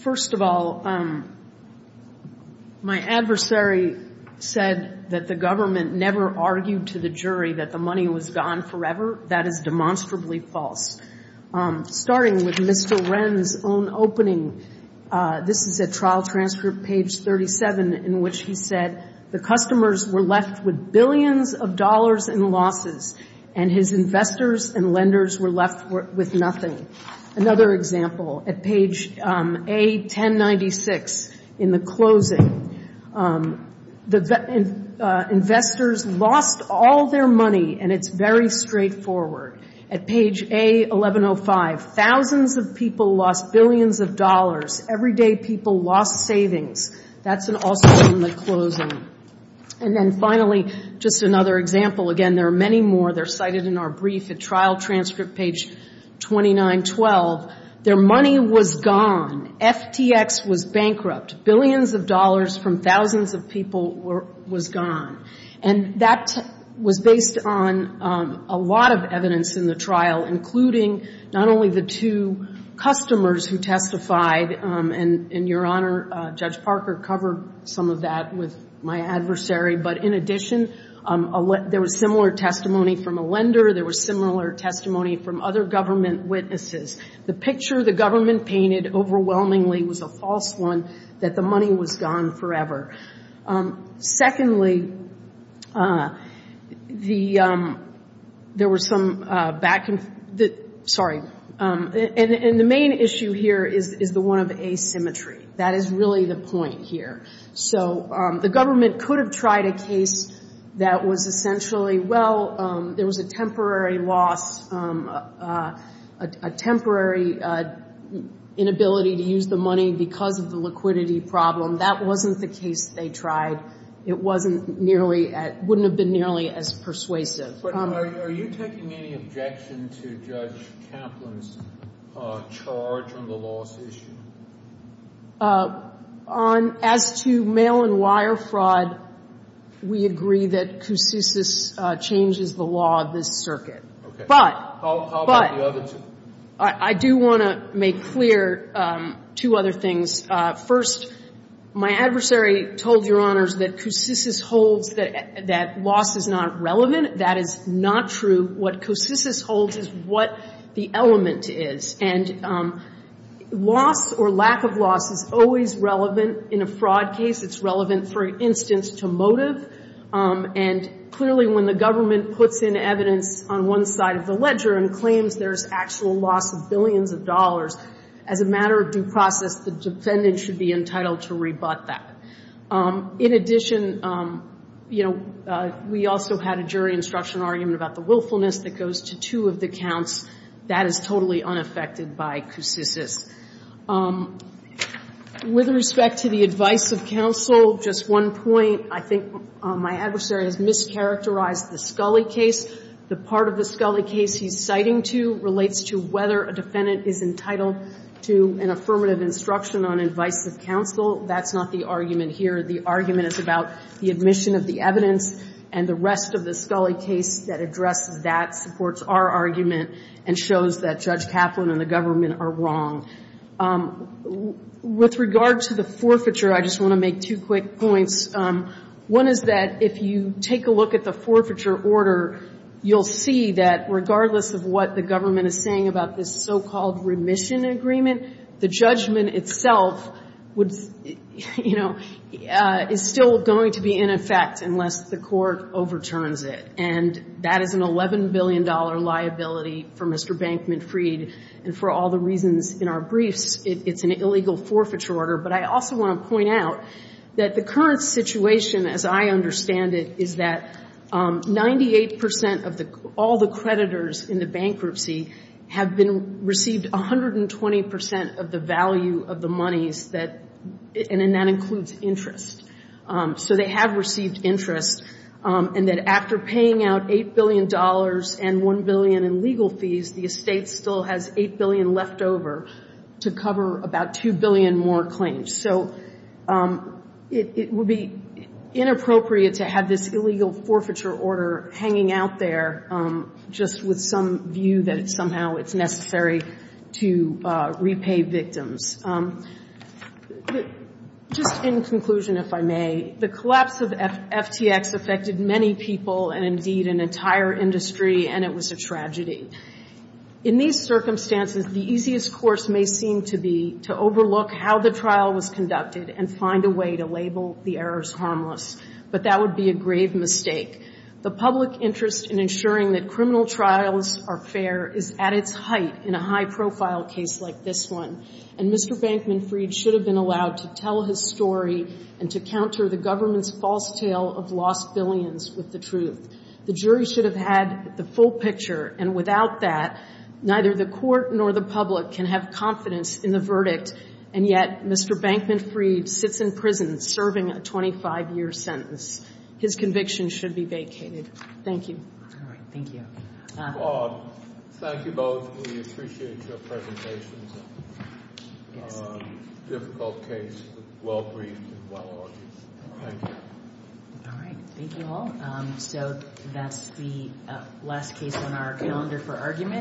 First of all, my adversary said that the government never argued to the jury that the money was gone forever. That is demonstrably false. Starting with Mr. Wren's own opening, this is at Trial Transcript, page 37, in which he said, the customers were left with billions of dollars in losses and his investors and lenders were left with nothing. Another example, at page A1096, in the closing. Investors lost all their money, and it's very straightforward. At page A1105, thousands of people lost billions of dollars. Everyday people lost savings. That's also in the closing. And then finally, just another example. Again, there are many more. They're cited in our brief at Trial Transcript, page 2912. Their money was gone. FTX was bankrupt. Billions of dollars from thousands of people was gone. And that was based on a lot of evidence in the trial, including not only the two customers who testified, and Your Honor, Judge Parker covered some of that with my adversary, but in addition, there was similar testimony from a lender. There was similar testimony from other government witnesses. The picture the government painted overwhelmingly was a false one, that the money was gone forever. Secondly, there was some back and forth. Sorry. And the main issue here is the one of asymmetry. That is really the point here. So the government could have tried a case that was essentially, well, there was a temporary loss, a temporary inability to use the money because of the liquidity problem. That wasn't the case they tried. It wasn't nearly, wouldn't have been nearly as persuasive. Are you taking any objection to Judge Kaplan's charge on the loss issue? As to mail and wire fraud, we agree that Coussous changes the law of this circuit. Okay. How about the other two? But I do want to make clear two other things. First, my adversary told Your Honors that Coussous holds that loss is not relevant. That is not true. What Coussous holds is what the element is. And loss or lack of loss is always relevant in a fraud case. It's relevant, for instance, to motive. And clearly, when the government puts in evidence on one side of the ledger and claims there's actual loss of billions of dollars, as a matter of due process, the defendant should be entitled to rebut that. In addition, you know, we also had a jury instruction argument about the willfulness that goes to two of the counts. That is totally unaffected by Coussous's. With respect to the advice of counsel, just one point. I think my adversary has mischaracterized the Scully case. The part of the Scully case he's citing to relates to whether a defendant is entitled to an affirmative instruction on advice of counsel. That's not the argument here. The argument is about the admission of the evidence. And the rest of the Scully case that addresses that supports our argument and shows that Judge Kaplan and the government are wrong. With regard to the forfeiture, I just want to make two quick points. One is that if you take a look at the forfeiture order, you'll see that regardless of what the government is saying about this so-called remission agreement, the judgment itself would, you know, is still going to be in effect unless the court overturns it. And that is an $11 billion liability for Mr. Bankman Freed. And for all the reasons in our briefs, it's an illegal forfeiture order. But I also want to point out that the current situation, as I understand it, is that 98 percent of all the creditors in the bankruptcy have received 120 percent of the value of the monies, and that includes interest. So they have received interest. And that after paying out $8 billion and $1 billion in legal fees, the estate still has $8 billion left over to cover about $2 billion more claims. So it would be inappropriate to have this illegal forfeiture order hanging out there just with some view that somehow it's necessary to repay victims. Just in conclusion, if I may, the collapse of FTX affected many people and indeed an entire industry, and it was a tragedy. In these circumstances, the easiest course may seem to be to overlook how the trial was conducted and find a way to label the errors harmless. But that would be a grave mistake. The public interest in ensuring that criminal trials are fair is at its height in a high-profile case like this one. And Mr. Bankman Freed should have been allowed to tell his story and to counter the government's false tale of lost billions with the truth. The jury should have had the full picture, and without that, neither the court nor the public can have confidence in the verdict. And yet Mr. Bankman Freed sits in prison serving a 25-year sentence. His conviction should be vacated. Thank you. All right. Thank you. Thank you both. We appreciate your presentations. Difficult case, but well-briefed and well-argued. Thank you. All right. Thank you all. So that's the last case on our calendar for argument.